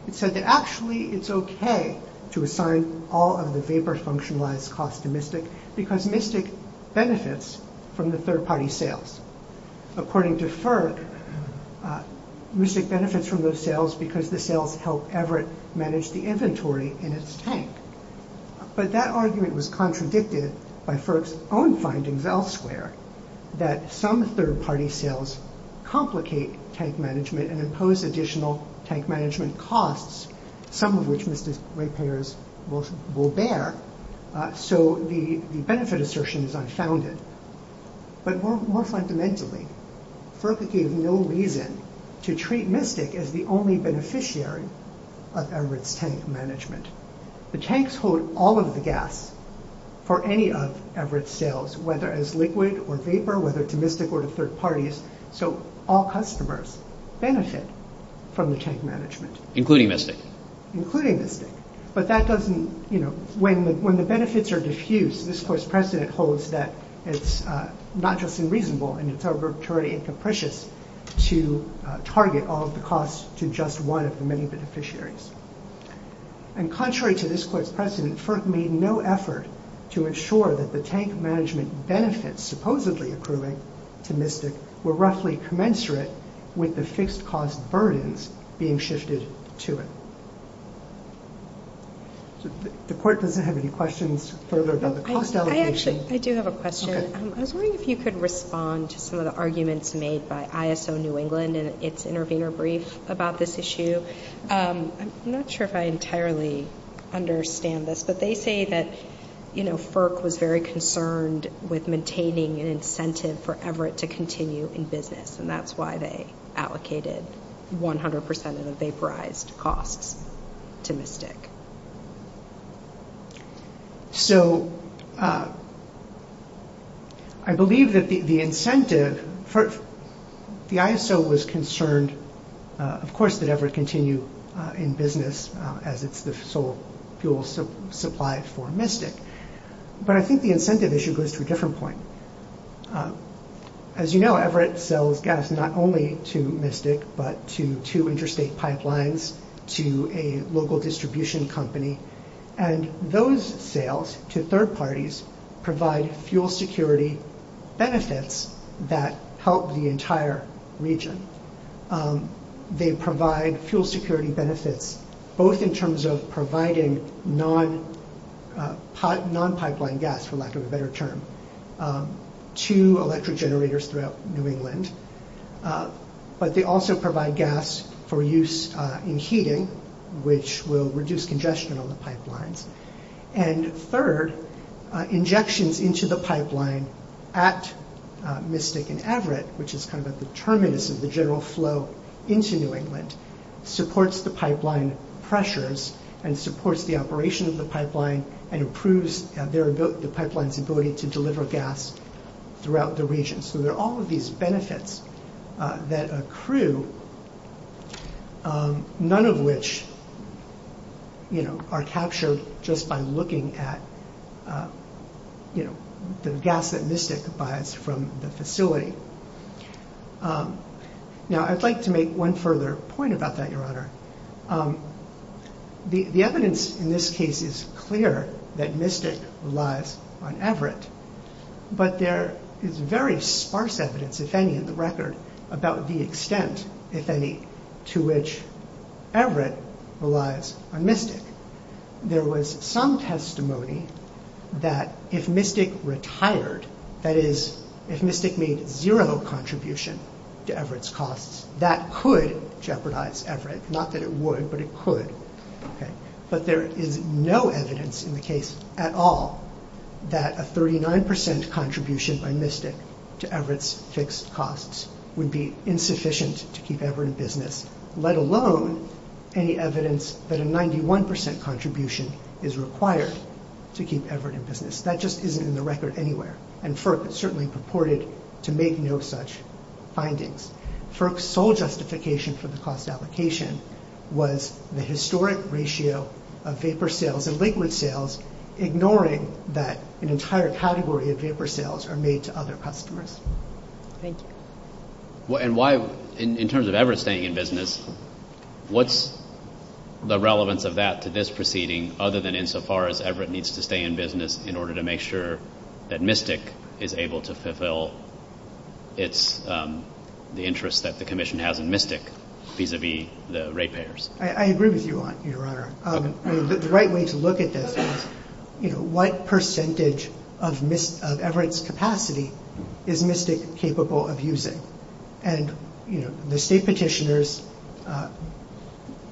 It said that actually it's okay to assign all of the vapor functionalized costs to MISNIC because MISNIC benefits from the third-party sales. According to FERC, MISNIC benefits from those sales because the sales help Everett manage the inventory in its tank. But that argument was contradicted by FERC's own findings elsewhere that some third-party sales complicate tank management and impose additional tank management costs, some of which MISNIC rate payers will bear. So the benefit assertion is unfounded. But more fundamentally, FERC gave no reason to treat MISNIC as the only beneficiary of Everett's tank management. The tanks hold all of the gas for any of Everett's sales, whether it's liquid or vapor, whether it's MISNIC or third parties. So all customers benefit from the tank management. Including MISNIC. Including MISNIC. But that doesn't, you know, when the benefits are diffused, this course precedent holds that it's not just unreasonable and it's already incapricious to target all of the costs to just one of the many beneficiaries. And contrary to this course precedent, FERC made no effort to ensure that the tank management benefits supposedly accruing to MISNIC were roughly commensurate with the fixed cost burdens being shifted to it. The court doesn't have any questions further about the cost allocation. I actually do have a question. I was wondering if you could respond to some of the arguments made by ISO New England and its intervener brief about this issue. I'm not sure if I entirely understand this, but they say that, you know, FERC was very concerned with maintaining an incentive for Everett to continue in business. And that's why they allocated 100% of the vaporized costs to MISNIC. So I believe that the incentive, the ISO was concerned, of course, that Everett continue in business as it's the sole fuel supply for MISNIC. But I think the incentive issue goes to a different point. As you know, Everett sells gas not only to MISNIC, but to two interstate pipelines, to a local distribution company. And those sales to third parties provide fuel security benefits that help the entire region. They provide fuel security benefits both in terms of providing non-pipeline gas, for lack of a better term, to electric generators throughout New England. But they also provide gas for use in heating, which will reduce congestion on the pipelines. And third, injections into the pipeline at MISNIC and Everett, which is kind of the terminus of the general flow into New England, supports the pipeline pressures and supports the operation of the pipeline and improves the pipeline's ability to deliver gas throughout the region. So there are all of these benefits that accrue, none of which are captured just by looking at the gas that MISNIC buys from the facility. Now, I'd like to make one further point about that, Your Honor. The evidence in this case is clear that MISNIC relies on Everett. But there is very sparse evidence, if any, in the record about the extent, if any, to which Everett relies on MISNIC. There was some testimony that if MISNIC retired, that is, if MISNIC made zero contribution to Everett's costs, that could jeopardize Everett, not that it would, but it could. But there is no evidence in the case at all that a 39% contribution by MISNIC to Everett's fixed costs would be insufficient to keep Everett in business, let alone any evidence that a 91% contribution is required to keep Everett in business. That just isn't in the record anywhere. And FERC was certainly purported to make no such findings. FERC's sole justification for the cost allocation was the historic ratio of vapor sales and liquid sales, ignoring that an entire category of vapor sales are made to other customers. Thank you. And why, in terms of Everett staying in business, what's the relevance of that to this proceeding, other than insofar as Everett needs to stay in business in order to make sure that MISNIC is able to fulfill the interest that the Commission has in MISNIC vis-à-vis the rate payers? I agree with you, Your Honor. The right way to look at this is, you know, what percentage of Everett's capacity is MISNIC capable of using? And, you know, the state petitioners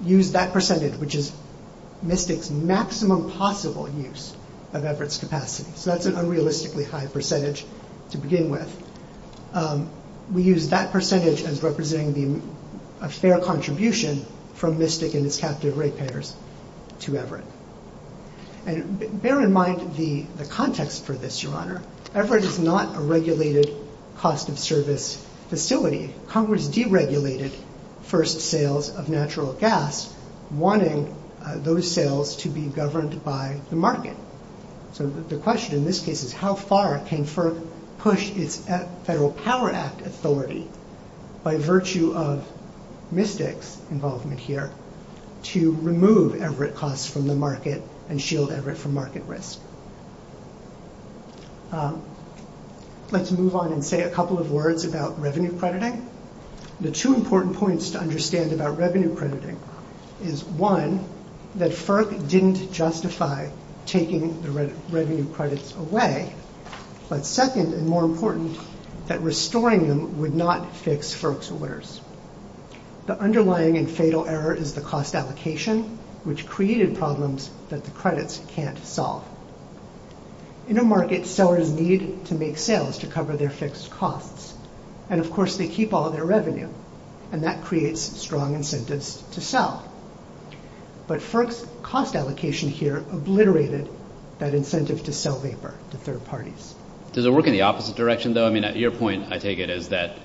use that percentage, which is MISNIC's maximum possible use of Everett's capacity. So that's an unrealistically high percentage to begin with. We use that percentage as representing a fair contribution from MISNIC and its captive rate payers to Everett. And bear in mind the context for this, Your Honor. Everett is not a regulated cost-of-service facility. Congress deregulated first sales of natural gas, wanting those sales to be governed by the market. So the question in this case is, how far can FERC push its Federal Power Act authority by virtue of MISNIC's involvement here to remove Everett costs from the market and shield Everett from market risk? Let's move on and say a couple of words about revenue crediting. Okay. The two important points to understand about revenue crediting is one, that FERC didn't justify taking the revenue credits away, but second and more important, that restoring them would not fix FERC's awareness. The underlying and fatal error is the cost application, which created problems that the credits can't solve. In a market, sellers need to make sales to cover their fixed costs. And, of course, they keep all their revenue, and that creates strong incentives to sell. But FERC's cost allocation here obliterated that incentive to sell vapor to third parties. Does it work in the opposite direction, though? I mean, your point, I take it, is that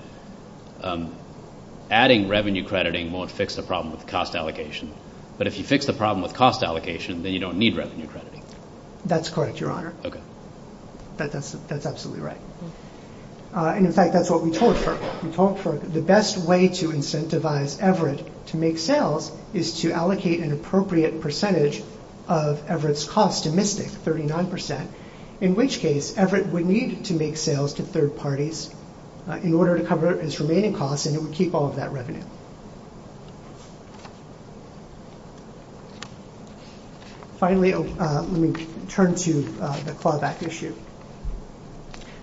adding revenue crediting won't fix the problem with cost allocation, but if you fix the problem with cost allocation, then you don't need revenue crediting. That's correct, Your Honor. Okay. That's absolutely right. And, in fact, that's what we told FERC. We told FERC the best way to incentivize Everett to make sales is to allocate an appropriate percentage of Everett's cost to Mystic, 39%, in which case Everett would need to make sales to third parties in order to cover its remaining costs, and it would keep all of that revenue. Finally, let me turn to the clawback issue.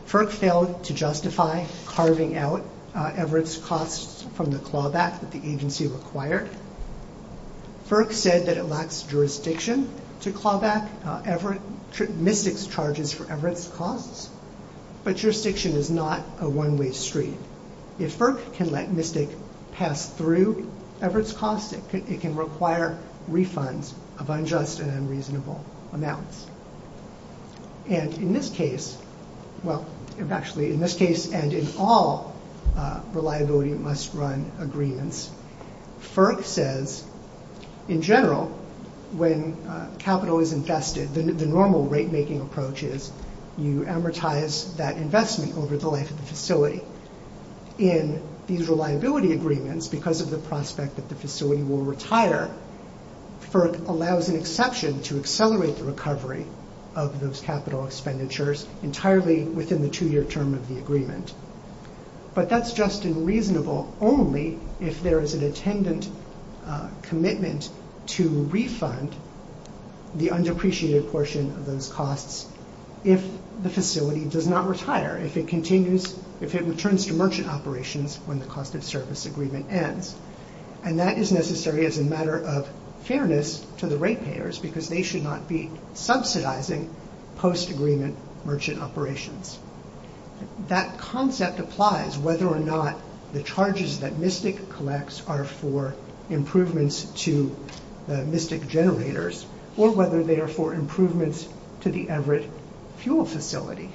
FERC failed to justify carving out Everett's costs from the clawback that the agency required. FERC said that it lacks jurisdiction to clawback Mystic's charges for Everett's costs, but jurisdiction is not a one-way street. If FERC can let Mystic pass through Everett's costs, it can require refunds of unjust and unreasonable amounts. And, in this case, well, actually, in this case and in all reliability must run agreements, FERC says, in general, when capital is invested, the normal rate-making approach is you amortize that investment over the length of the facility. In these reliability agreements, because of the prospect that the facility will retire, FERC allows an exception to accelerate the recovery of those capital expenditures entirely within the two-year term of the agreement. But that's just and reasonable only if there is an attendant commitment to refund the undepreciated portion of those costs if the facility does not retire, if it continues, if it returns to merchant operations when the cost of service agreement ends. And that is necessary as a matter of fairness to the rate payers, because they should not be subsidizing post-agreement merchant operations. That concept applies whether or not the charges that Mystic collects are for improvements to Mystic generators or whether they are for improvements to the Everett fuel facility.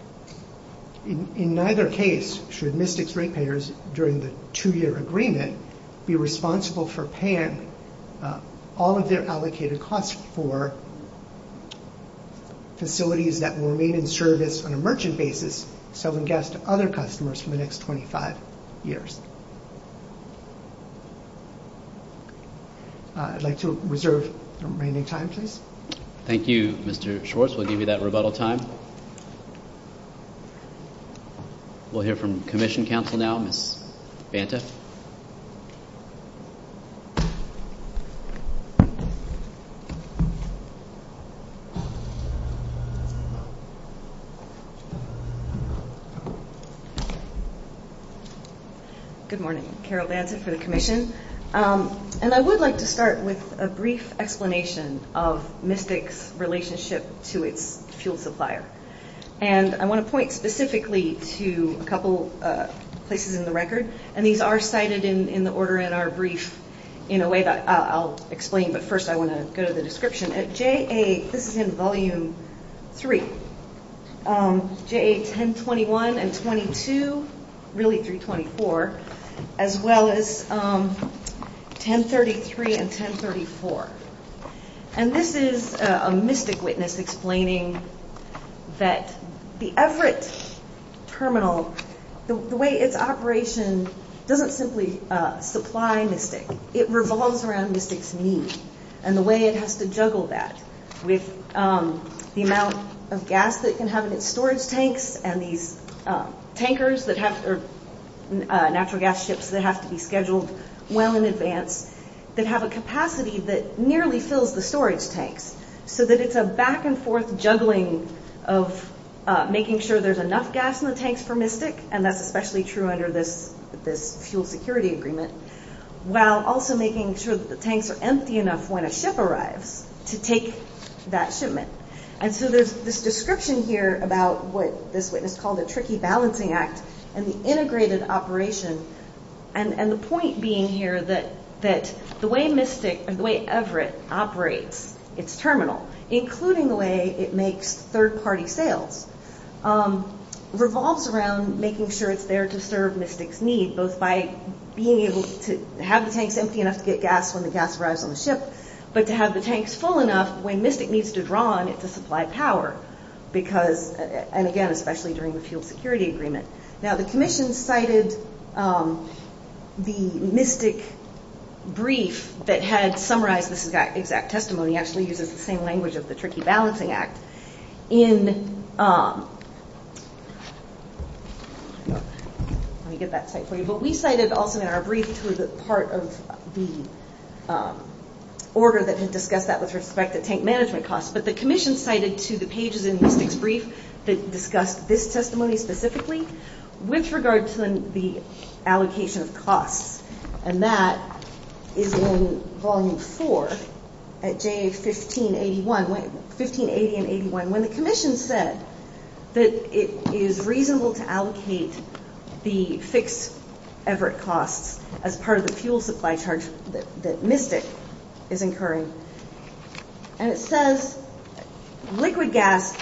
In neither case should Mystic's rate payers during the two-year agreement be responsible for paying all of their allocated costs for facilities that will remain in service on a merchant basis selling gas to other customers for the next 25 years. I'd like to reserve remaining time, please. Thank you, Mr. Schwartz. We'll give you that rebuttal time. We'll hear from Commission Counsel now, Ms. Banta. Good morning. Carol Banta for the Commission. And I would like to start with a brief explanation of Mystic's relationship to its fuel supplier. And I want to point specifically to a couple of places in the record. And these are cited in the order and are briefed in a way that I'll explain, but first I want to go to the description. At JA, this is in Volume 3, JA 1021 and 22, really through 24, as well as 1033 and 1034. And this is a Mystic witness explaining that the Everett terminal, the way its operation doesn't simply supply Mystic. It revolves around Mystic's needs and the way it has to juggle that with the amount of gas it can have in its storage tanks and these natural gas ships that have to be scheduled well in advance that have a capacity that nearly fills the storage tank so that it's a back and forth juggling of making sure there's enough gas in the tanks for Mystic, and that's especially true under this fuel security agreement, while also making sure that the tanks are empty enough when a ship arrives to take that shipment. And so there's this description here about what this witness called a tricky balancing act and the integrated operation and the point being here that the way Mystic, the way Everett operates its terminal, including the way it makes third-party sales, revolves around making sure it's there to serve Mystic's needs, both by being able to have the tanks empty enough to get gas when the gas arrives on the ship, but to have the tanks full enough, when Mystic needs to draw on it to supply power, and again, especially during the fuel security agreement. Now, the commission cited the Mystic brief that had summarized this exact testimony, actually uses the same language as the tricky balancing act, in... Let me get that site for you. The leaf site is also in our brief, which was part of the order that had discussed that with respect to tank management costs, but the commission cited to the pages in Mystic's brief that discussed this testimony specifically, with regard to the allocation of costs, and that is in volume four, at days 15, 80, and 81, when the commission said that it is reasonable to allocate the fixed Everett costs as part of the fuel supply charge that Mystic is incurring, and it says, liquid gas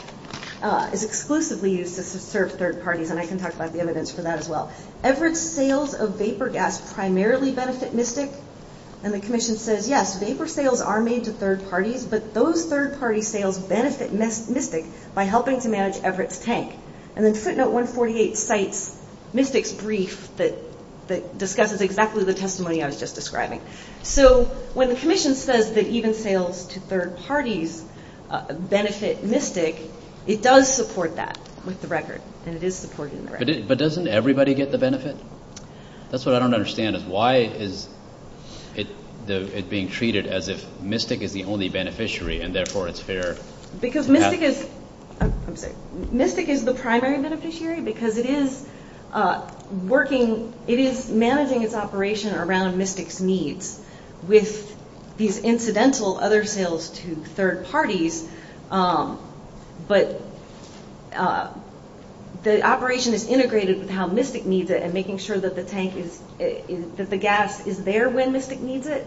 is exclusively used to serve third parties, and I can talk about the evidence for that as well. Everett sales of vapor gas primarily benefit Mystic, and the commission says, yes, vapor sales are made to third parties, but those third party sales benefit Mystic by helping to manage Everett's tank, and then footnote 148 cites Mystic's brief that discusses exactly the testimony I was just describing. So, when the commission says that even sales to third parties benefit Mystic, it does support that with the record, and it is supporting the record. But doesn't everybody get the benefit? That's what I don't understand, is why is it being treated as if Mystic is the only beneficiary, and therefore it's fair? Because Mystic is the primary beneficiary, because it is managing its operation around Mystic's needs. With these incidental other sales to third parties, but the operation is integrated with how Mystic needs it, and making sure that the tank is, that the gas is there when Mystic needs it,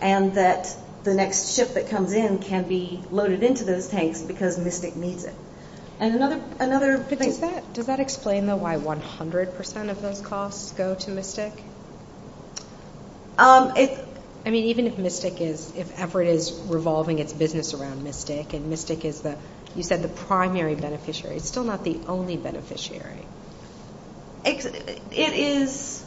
and that the next ship that comes in can be loaded into those tanks because Mystic needs it. And another... Does that explain, though, why 100% of those costs go to Mystic? I mean, even if Mystic is, if Everett is revolving its business around Mystic, and Mystic is, you said, the primary beneficiary, it's still not the only beneficiary. It is...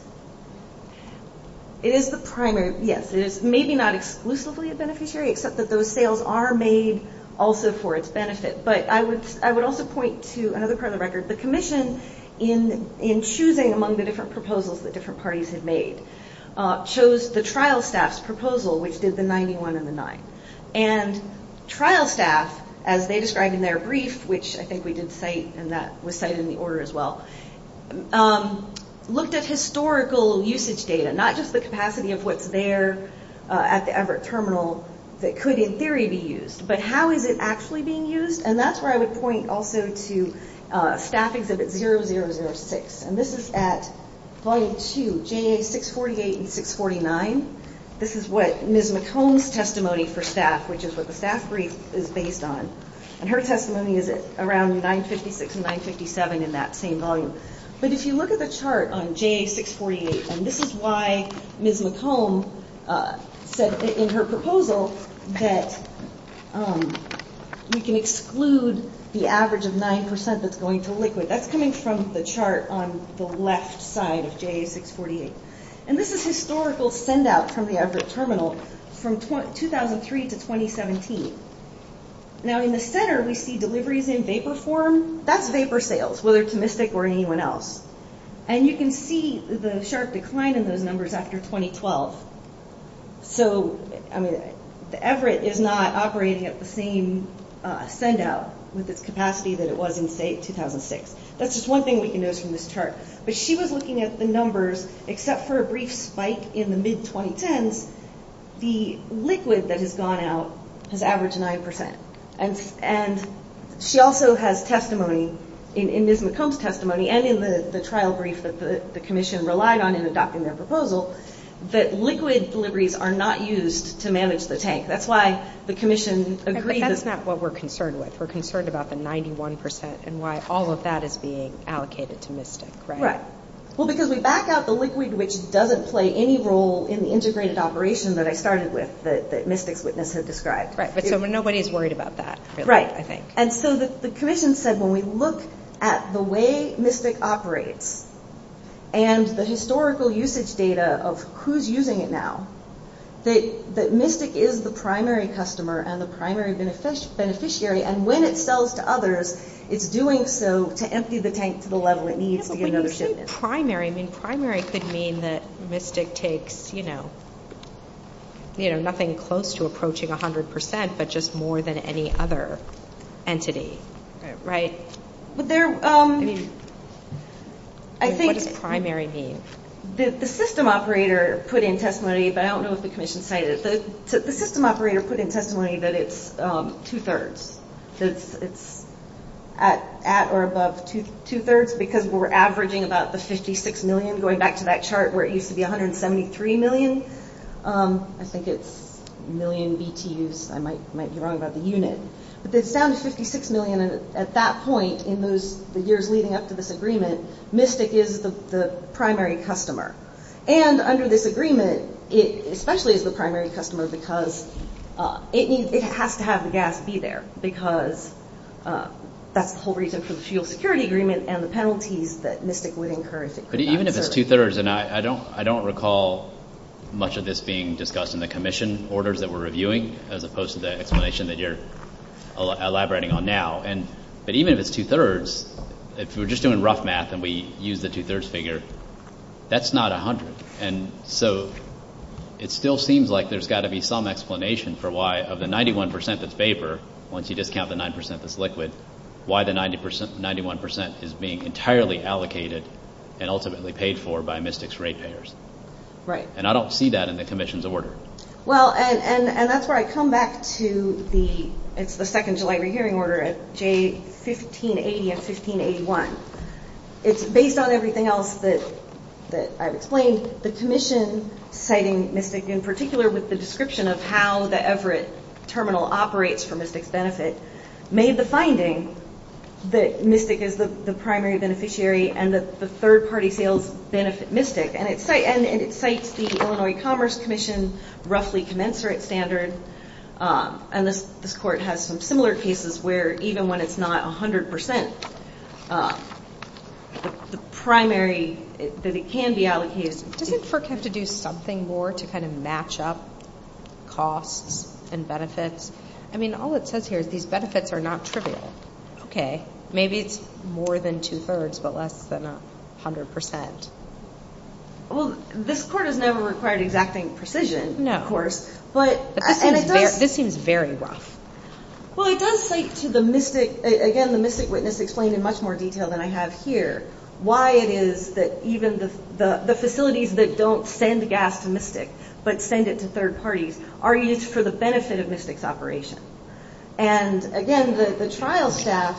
It is the primary, yes. It is maybe not exclusively a beneficiary, except that those sales are made also for its benefit. But I would also point to another part of the record. The commission, in choosing among the different proposals that different parties have made, chose the trial staff's proposal, which did the 91 and the 9. And trial staff, as they described in their brief, which I think we did cite, and that was cited in the order as well, looked at historical usage data, not just the capacity of what's there at the Everett terminal that could, in theory, be used, but how is it actually being used. And that's where I would point also to Staff Exhibit 0006. And this is at Volume 2, JA648 and 649. This is what Ms. McComb's testimony for staff, which is what the staff brief is based on. And her testimony is around 956 and 957 in that same volume. But if you look at the chart on JA648, and this is why Ms. McComb said in her proposal that we can exclude the average of 9% that's going to liquid. That's coming from the chart on the left side of JA648. And this is historical send-out from the Everett terminal from 2003 to 2017. Now, in the center, we see deliveries in vapor form. That's vapor sales, whether to Mystic or anyone else. And you can see the sharp decline in the numbers after 2012. So, I mean, Everett is not operating at the same send-out with its capacity that it was in, say, 2006. That's just one thing we can notice from this chart. But she was looking at the numbers, except for a brief spike in the mid-2010s, the liquid that has gone out has averaged 9%. And she also has testimony in Ms. McComb's testimony and in the trial brief that the commission relied on in adopting their proposal, that liquid deliveries are not used to manage the tank. That's why the commission agreed to... But that's not what we're concerned with. We're concerned about the 91% and why all of that is being allocated to Mystic, right? Right. Well, because we back out the liquid, which doesn't play any role in the integrated operation that I started with, that Mystic's witness had described. Right, but nobody is worried about that, I think. Right, and so the commission said, when we look at the way Mystic operates and the historical usage data of who's using it now, that Mystic is the primary customer and the primary beneficiary, and when it sells to others, it's doing so to empty the tank to the level it needs to get another shipment. Well, when you say primary, I mean, primary could mean that Mystic takes, you know, you know, nothing close to approaching 100%, but just more than any other entity, right? I mean, what does primary mean? The system operator put in testimony, but I don't know what the commission cited, so the system operator put in testimony that it's two-thirds. So it's at or above two-thirds because we're averaging about the 56 million, going back to that chart where it used to be 173 million. I think it's a million BTUs. I might be wrong about the unit. But it's down to 56 million at that point in the years leading up to this agreement. Mystic is the primary customer, and under this agreement, it especially is the primary customer because it has to have the gas be there because that's the whole reason for the geosecurity agreement and the penalties that Mystic would incur. Even if it's two-thirds, and I don't recall much of this being discussed in the commission orders that we're reviewing as opposed to the explanation that you're elaborating on now, but even if it's two-thirds, if we're just doing rough math and we use the two-thirds figure, that's not 100. And so it still seems like there's got to be some explanation for why of the 91% that's vapor, once you discount the 9% that's liquid, why the 91% is being entirely allocated and ultimately paid for by Mystic's ratepayers. And I don't see that in the commission's order. Well, and that's where I come back to the it's the 2nd July Reviewing Order, J1580 and J1681. It's based on everything else that I've explained. The commission citing Mystic in particular with the description of how the Everett terminal operates for Mystic's benefit made the finding that Mystic is the primary beneficiary and that the third-party sales benefit Mystic, and it cites the Illinois Commerce Commission roughly commensurate standards. And this court has some similar cases where even when it's not 100%, the primary, that it can be allocated... Doesn't FERC have to do something more to kind of match up costs and benefits? I mean, all it says here is these benefits are not trivial. Okay. Maybe it's more than two-thirds, but less than 100%. Well, this court has never required the exact same precision. No, of course. But this seems very rough. Well, it does cite to the Mystic... Again, the Mystic witness explained in much more detail than I have here why it is that even the facilities that don't send gas to Mystic but send it to third parties are used for the benefit of Mystic's operation. And again, the trial staff,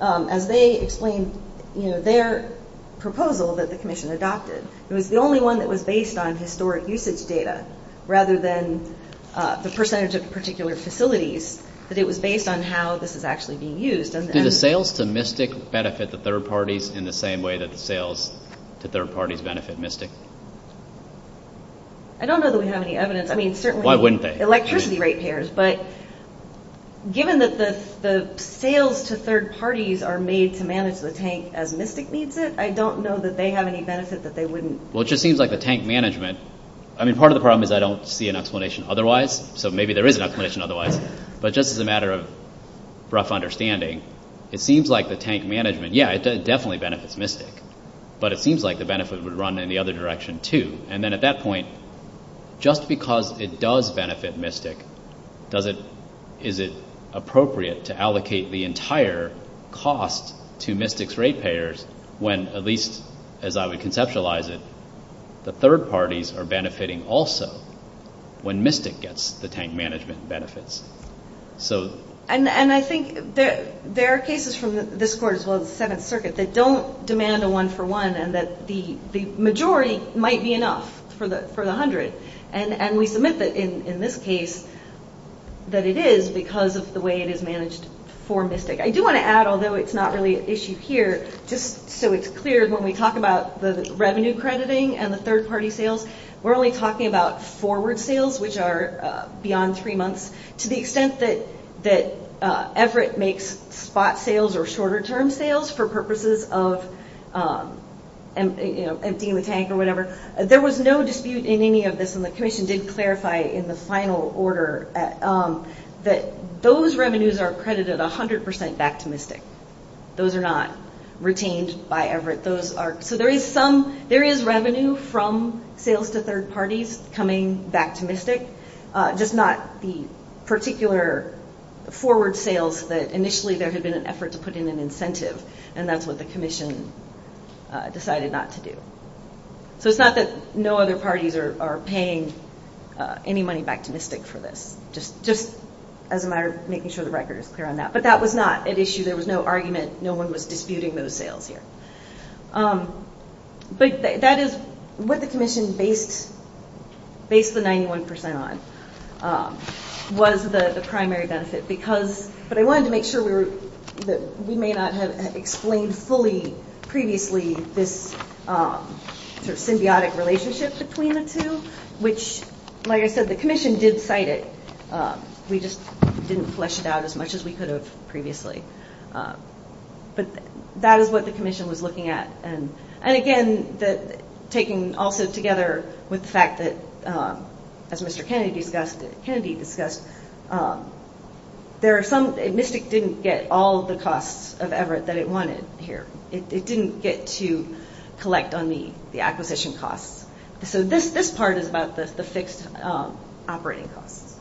as they explained their proposal that the commission adopted, it was the only one that was based on historic usage data rather than the percentage of particular facilities, that it was based on how this was actually being used. Do the sales to Mystic benefit the third parties in the same way that the sales to third parties benefit Mystic? I don't know that we have any evidence. I mean, certainly... Why wouldn't they? Electricity rate payers. But given that the sales to third parties are made to manage the tank as Mystic needs it, I don't know that they have any benefit that they wouldn't... Well, it just seems like the tank management... I mean, part of the problem is I don't see an explanation otherwise. So maybe there is an explanation otherwise. But just as a matter of rough understanding, it seems like the tank management... Yeah, it definitely benefits Mystic. But it seems like the benefit would run in the other direction, too. And then at that point, just because it does benefit Mystic, is it appropriate to allocate the entire cost to Mystic's rate payers when, at least as I would conceptualize it, the third parties are benefiting also when Mystic gets the tank management benefits. And I think there are cases from this court as well as the 7th Circuit that don't demand a one-for-one and that the majority might be enough for the 100. And we submit that, in this case, that it is because of the way it is managed for Mystic. I do want to add, although it's not really an issue here, just so it's clear, when we talk about the revenue crediting and the third-party sales, we're only talking about forward sales, which are beyond three months, to the extent that Everett makes spot sales or shorter-term sales for purposes of emptying the tank or whatever. There was no dispute in any of this, and the Commission did clarify in the final order that those revenues are credited 100% back to Mystic. Those are not retained by Everett. So there is revenue from sales to third parties coming back to Mystic, just not the particular forward sales that initially there had been an effort to put in an incentive, and that's what the Commission decided not to do. So it's not that no other parties are paying any money back to Mystic for this, just as a matter of making sure the record is clear on that. But that was not an issue. There was no argument. No one was disputing those sales here. But that is what the Commission based the 91% on, was the primary benefit. But I wanted to make sure that we may not have explained fully previously this symbiotic relationship between the two, which, like I said, the Commission did cite it. We just didn't flesh it out as much as we could have previously. But that is what the Commission was looking at. And again, taking also together with the fact that, as Mr. Kennedy discussed, Mystic didn't get all the costs of effort that it wanted here. It didn't get to collect on the acquisition costs. So this part is about the fixed operating costs.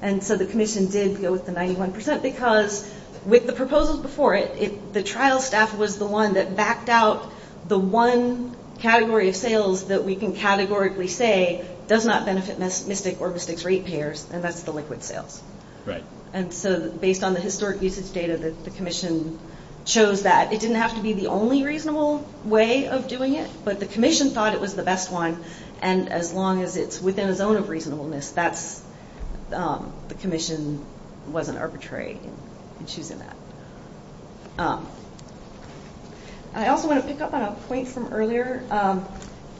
And so the Commission did go with the 91% because with the proposals before it, the trial staff was the one that backed out the one category of sales that we can categorically say does not benefit Mystic or Mystic's rate payers, and that's the liquid sales. And so based on the historic uses data, the Commission chose that. It didn't have to be the only reasonable way of doing it, but the Commission thought it was the best one. And as long as it's within a zone of reasonableness, the Commission wasn't arbitrary in choosing that. I also want to pick up on a point from earlier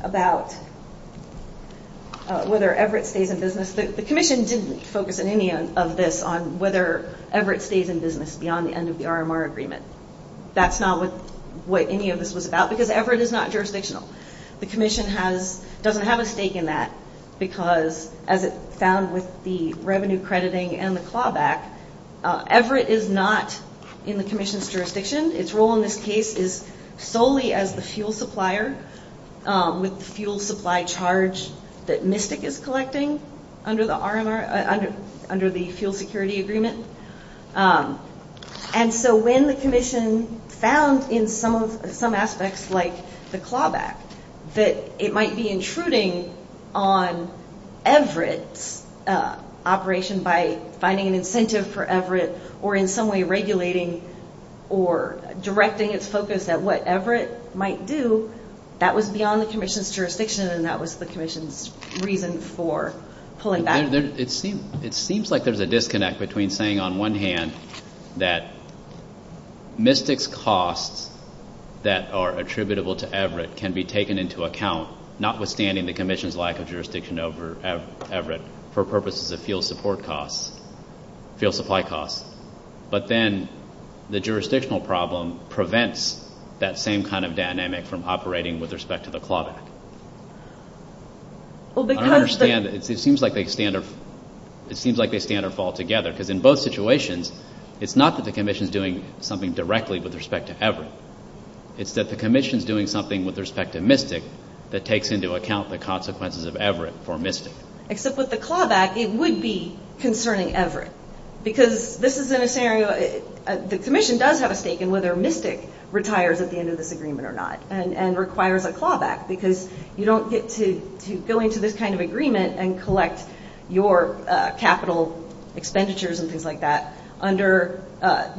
about whether Everett stays in business. The Commission didn't focus on any of this on whether Everett stays in business beyond the end of the RMR agreement. That's not what any of this was about because Everett is not jurisdictional. The Commission doesn't have a stake in that because, as it's found with the revenue crediting and the fallback, Everett is not in the Commission's jurisdiction. Its role in this case is solely as the fuel supplier with the fuel supply charge that Mystic is collecting under the fuel security agreement. And so when the Commission found in some aspects like the fallback that it might be intruding on Everett's operation by finding an incentive for Everett or in some way regulating or directing its focus at what Everett might do, that was beyond the Commission's jurisdiction and that was the Commission's reason for pulling back. It seems like there's a disconnect between saying on one hand that Mystic's costs that are attributable to Everett can be taken into account, notwithstanding the Commission's lack of jurisdiction over Everett for purposes of fuel supply costs. But then the jurisdictional problem prevents that same kind of dynamic from operating with respect to the fallback. I understand that it seems like they stand or fall together because in both situations, it's not that the Commission's doing something directly with respect to Everett. It's that the Commission's doing something with respect to Mystic that takes into account the consequences of Everett for Mystic. Except with the fallback, it would be concerning Everett because the Commission does have a stake in whether Mystic retires at the end of this agreement or not and requires a fallback because you don't get to go into this kind of agreement and collect your capital expenditures and things like that under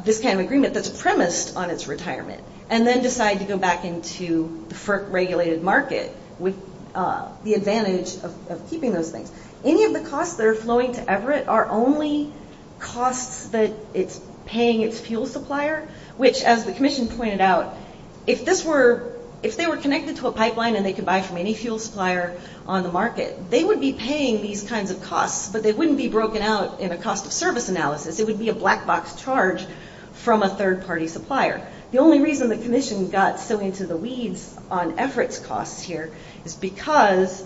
this kind of agreement that's premised on its retirement and then decide to go back into the regulated market with the advantage of keeping those things. Any of the costs that are flowing to Everett are only costs that it's paying its fuel supplier, which, as the Commission pointed out, if they were connected to a pipeline and they could buy from any fuel supplier on the market, they would be paying these kinds of costs, but they wouldn't be broken out in a cost-of-service analysis. It would be a black-box charge from a third-party supplier. The only reason the Commission got so into the weeds on Everett's costs here is because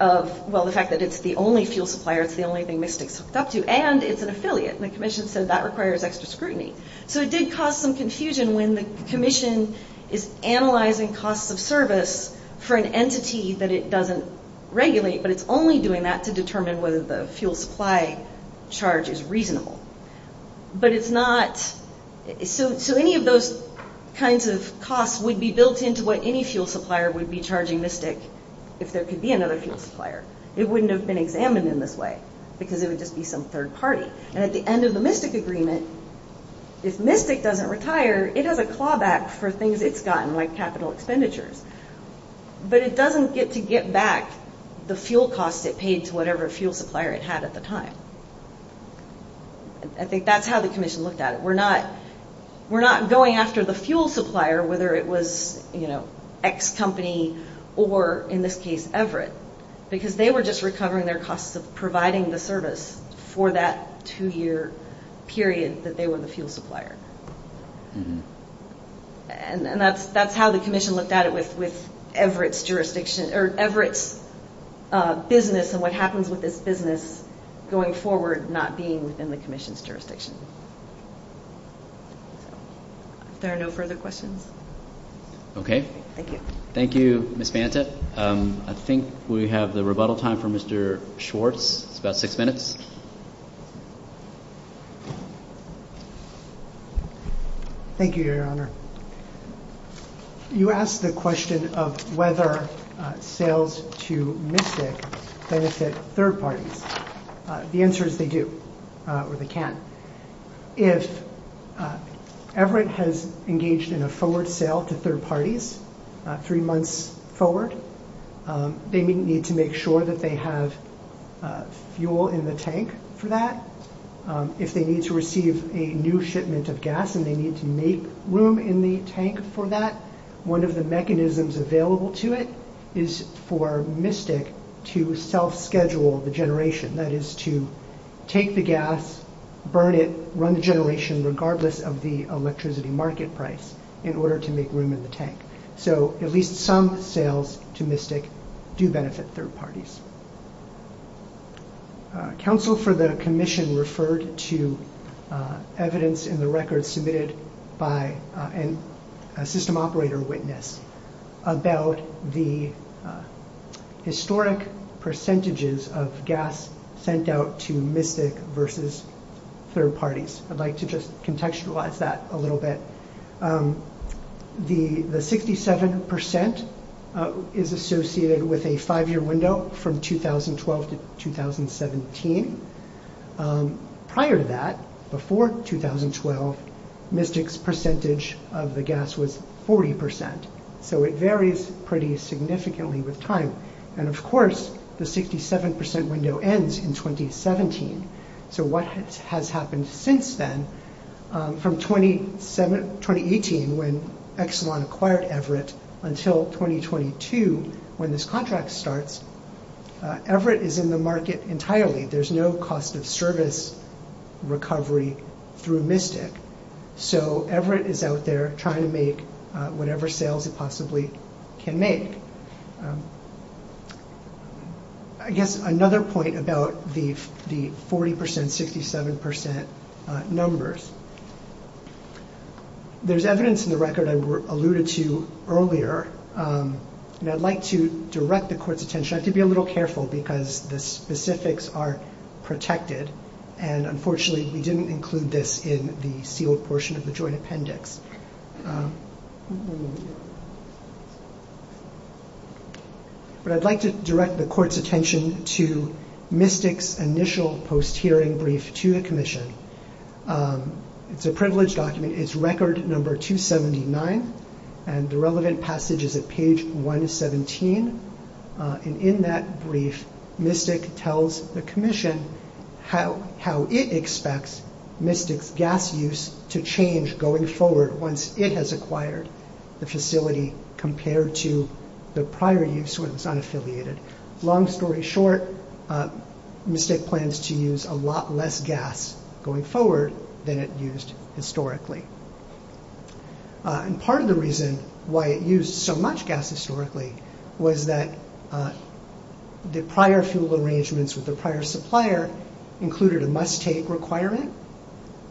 of, well, the fact that it's the only fuel supplier, it's the only thing Mystic's hooked up to, and it's an affiliate, and the Commission said that requires extra scrutiny. So it did cause some confusion when the Commission is analyzing cost-of-service for an entity that it doesn't regulate, but it's only doing that to determine whether the fuel supply charge is reasonable. But it's not... So any of those kinds of costs would be built into what any fuel supplier would be charging Mystic if there could be another fuel supplier. It wouldn't have been examined in this way because it would just be some third party. And at the end of the Mystic agreement, if Mystic doesn't retire, it has a clawback for things it's gotten, like capital expenditures. But it doesn't get to get back the fuel cost it paid to whatever fuel supplier it had at the time. I think that's how the Commission looked at it. We're not going after the fuel supplier whether it was X company or, in this case, Everett, because they were just recovering their costs of providing the service for that two-year period that they were the fuel supplier. And that's how the Commission looked at it with Everett's jurisdiction... or Everett's business not being in the Commission's jurisdiction. If there are no further questions... Okay. Thank you. Thank you, Ms. Mantis. I think we have the rebuttal time for Mr. Schwartz. It's about six minutes. Thank you, Your Honor. You asked the question of whether sales to Mystic benefit third parties. The answer is they do, or they can't. If Everett has engaged in a forward sale to third parties three months forward, they need to make sure that they have fuel in the tank for that. If they need to receive a new shipment of gas and they need to make room in the tank for that, one of the mechanisms available to it is for Mystic to self-schedule the generation. That is to take the gas, burn it, run the generation regardless of the electricity market price in order to make room in the tank. So at least some sales to Mystic do benefit third parties. Counsel for the Commission referred to evidence in the record submitted by a system operator witness about the historic percentages of gas sent out to Mystic versus third parties. I'd like to just contextualize that a little bit. The 67% is associated with a five-year window from 2012 to 2017. Prior to that, before 2012, Mystic's percentage of the gas was 40%. So it varies pretty significantly with time. And of course, the 67% window ends in 2017. So what has happened since then, from 2018 when Exelon acquired Everett until 2022 when this contract starts, Everett is in the market entirely. There's no cost of service recovery through Mystic. So Everett is out there trying to make whatever sales it possibly can make. I guess another point about the 40%, 67% numbers. There's evidence in the record I alluded to earlier. And I'd like to direct the court's attention. I have to be a little careful because the specifics are protected. And unfortunately, we didn't include this in the sealed portion of the joint appendix. But I'd like to direct the court's attention to Mystic's initial post-hearing brief to the commission. It's a privileged document. It's record number 279. And the relevant passage is at page 117. And in that brief, Mystic tells the commission how it expects Mystic's gas use to change going forward once it has acquired the facility compared to the prior use when it's unaffiliated. Long story short, Mystic plans to use a lot less gas going forward than it used historically. And part of the reason why it used so much gas historically was that the prior fuel arrangements with the prior supplier included a must-take requirement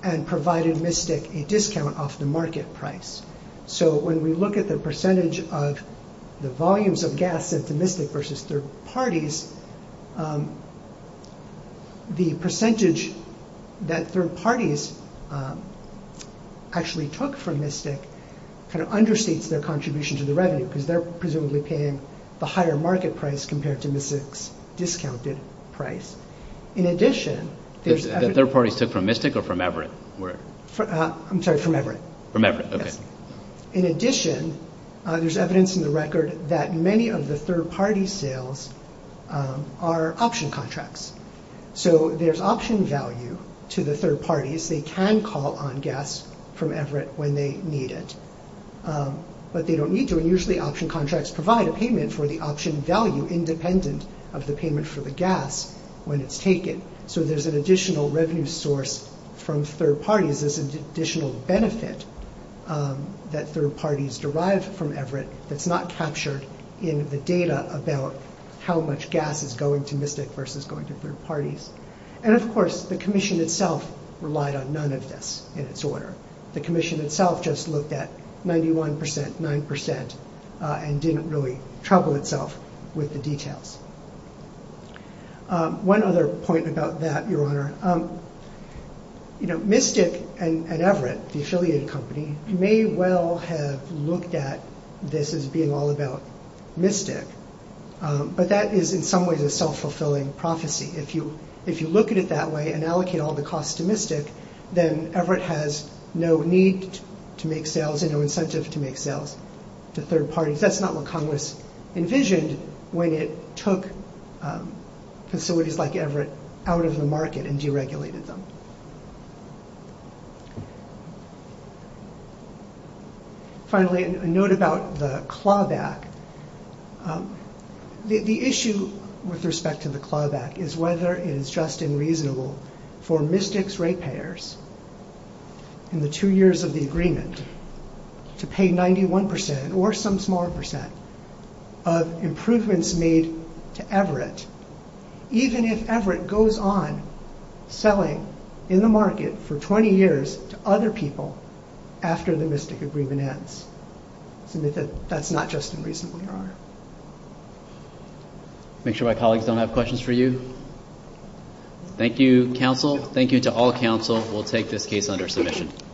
and provided Mystic a discount off the market price. So when we look at the percentage of the volumes of gas sent to Mystic versus third parties, the percentage that third parties actually took from Mystic understates their contribution to the revenue because they're presumably paying the higher market price compared to Mystic's discounted price. In addition, there's evidence in the record that many of the third party sales are option contracts. So there's option value to the third parties. They can call on gas from Everett when they need it. But they don't need to, and usually option contracts provide a payment for the option value independent of the payment for the gas when it's taken. So there's an additional revenue source from third parties. There's an additional benefit that third parties derived from Everett that's not captured in the data about how much gas is going to Mystic versus going to third parties. And of course, the commission itself relied on none of this in its order. The commission itself just looked at 91%, 9%, and didn't really trouble itself with the details. One other point about that, Your Honor, Mystic and Everett, the affiliate company, may well have looked at this as being all about Mystic. But that is, in some ways, a self-fulfilling prophecy. If you look at it that way and allocate all the costs to Mystic, then Everett has no need to make sales and no incentive to make sales to third parties. That's not what Congress envisioned when it took facilities like Everett out of the market and deregulated them. Finally, a note about the clawback. The issue with respect to the clawback is whether it is just and reasonable for Mystic's rate payers in the two years of the agreement to pay 91% or some small percent of improvements made to Everett, even if Everett goes on selling in the market for 20 years to other people after the Mystic agreement ends. That's not just unreasonable, Your Honor. Make sure my colleagues don't have questions for you. Thank you, counsel. Thank you to all counsel. We'll take this case under submission.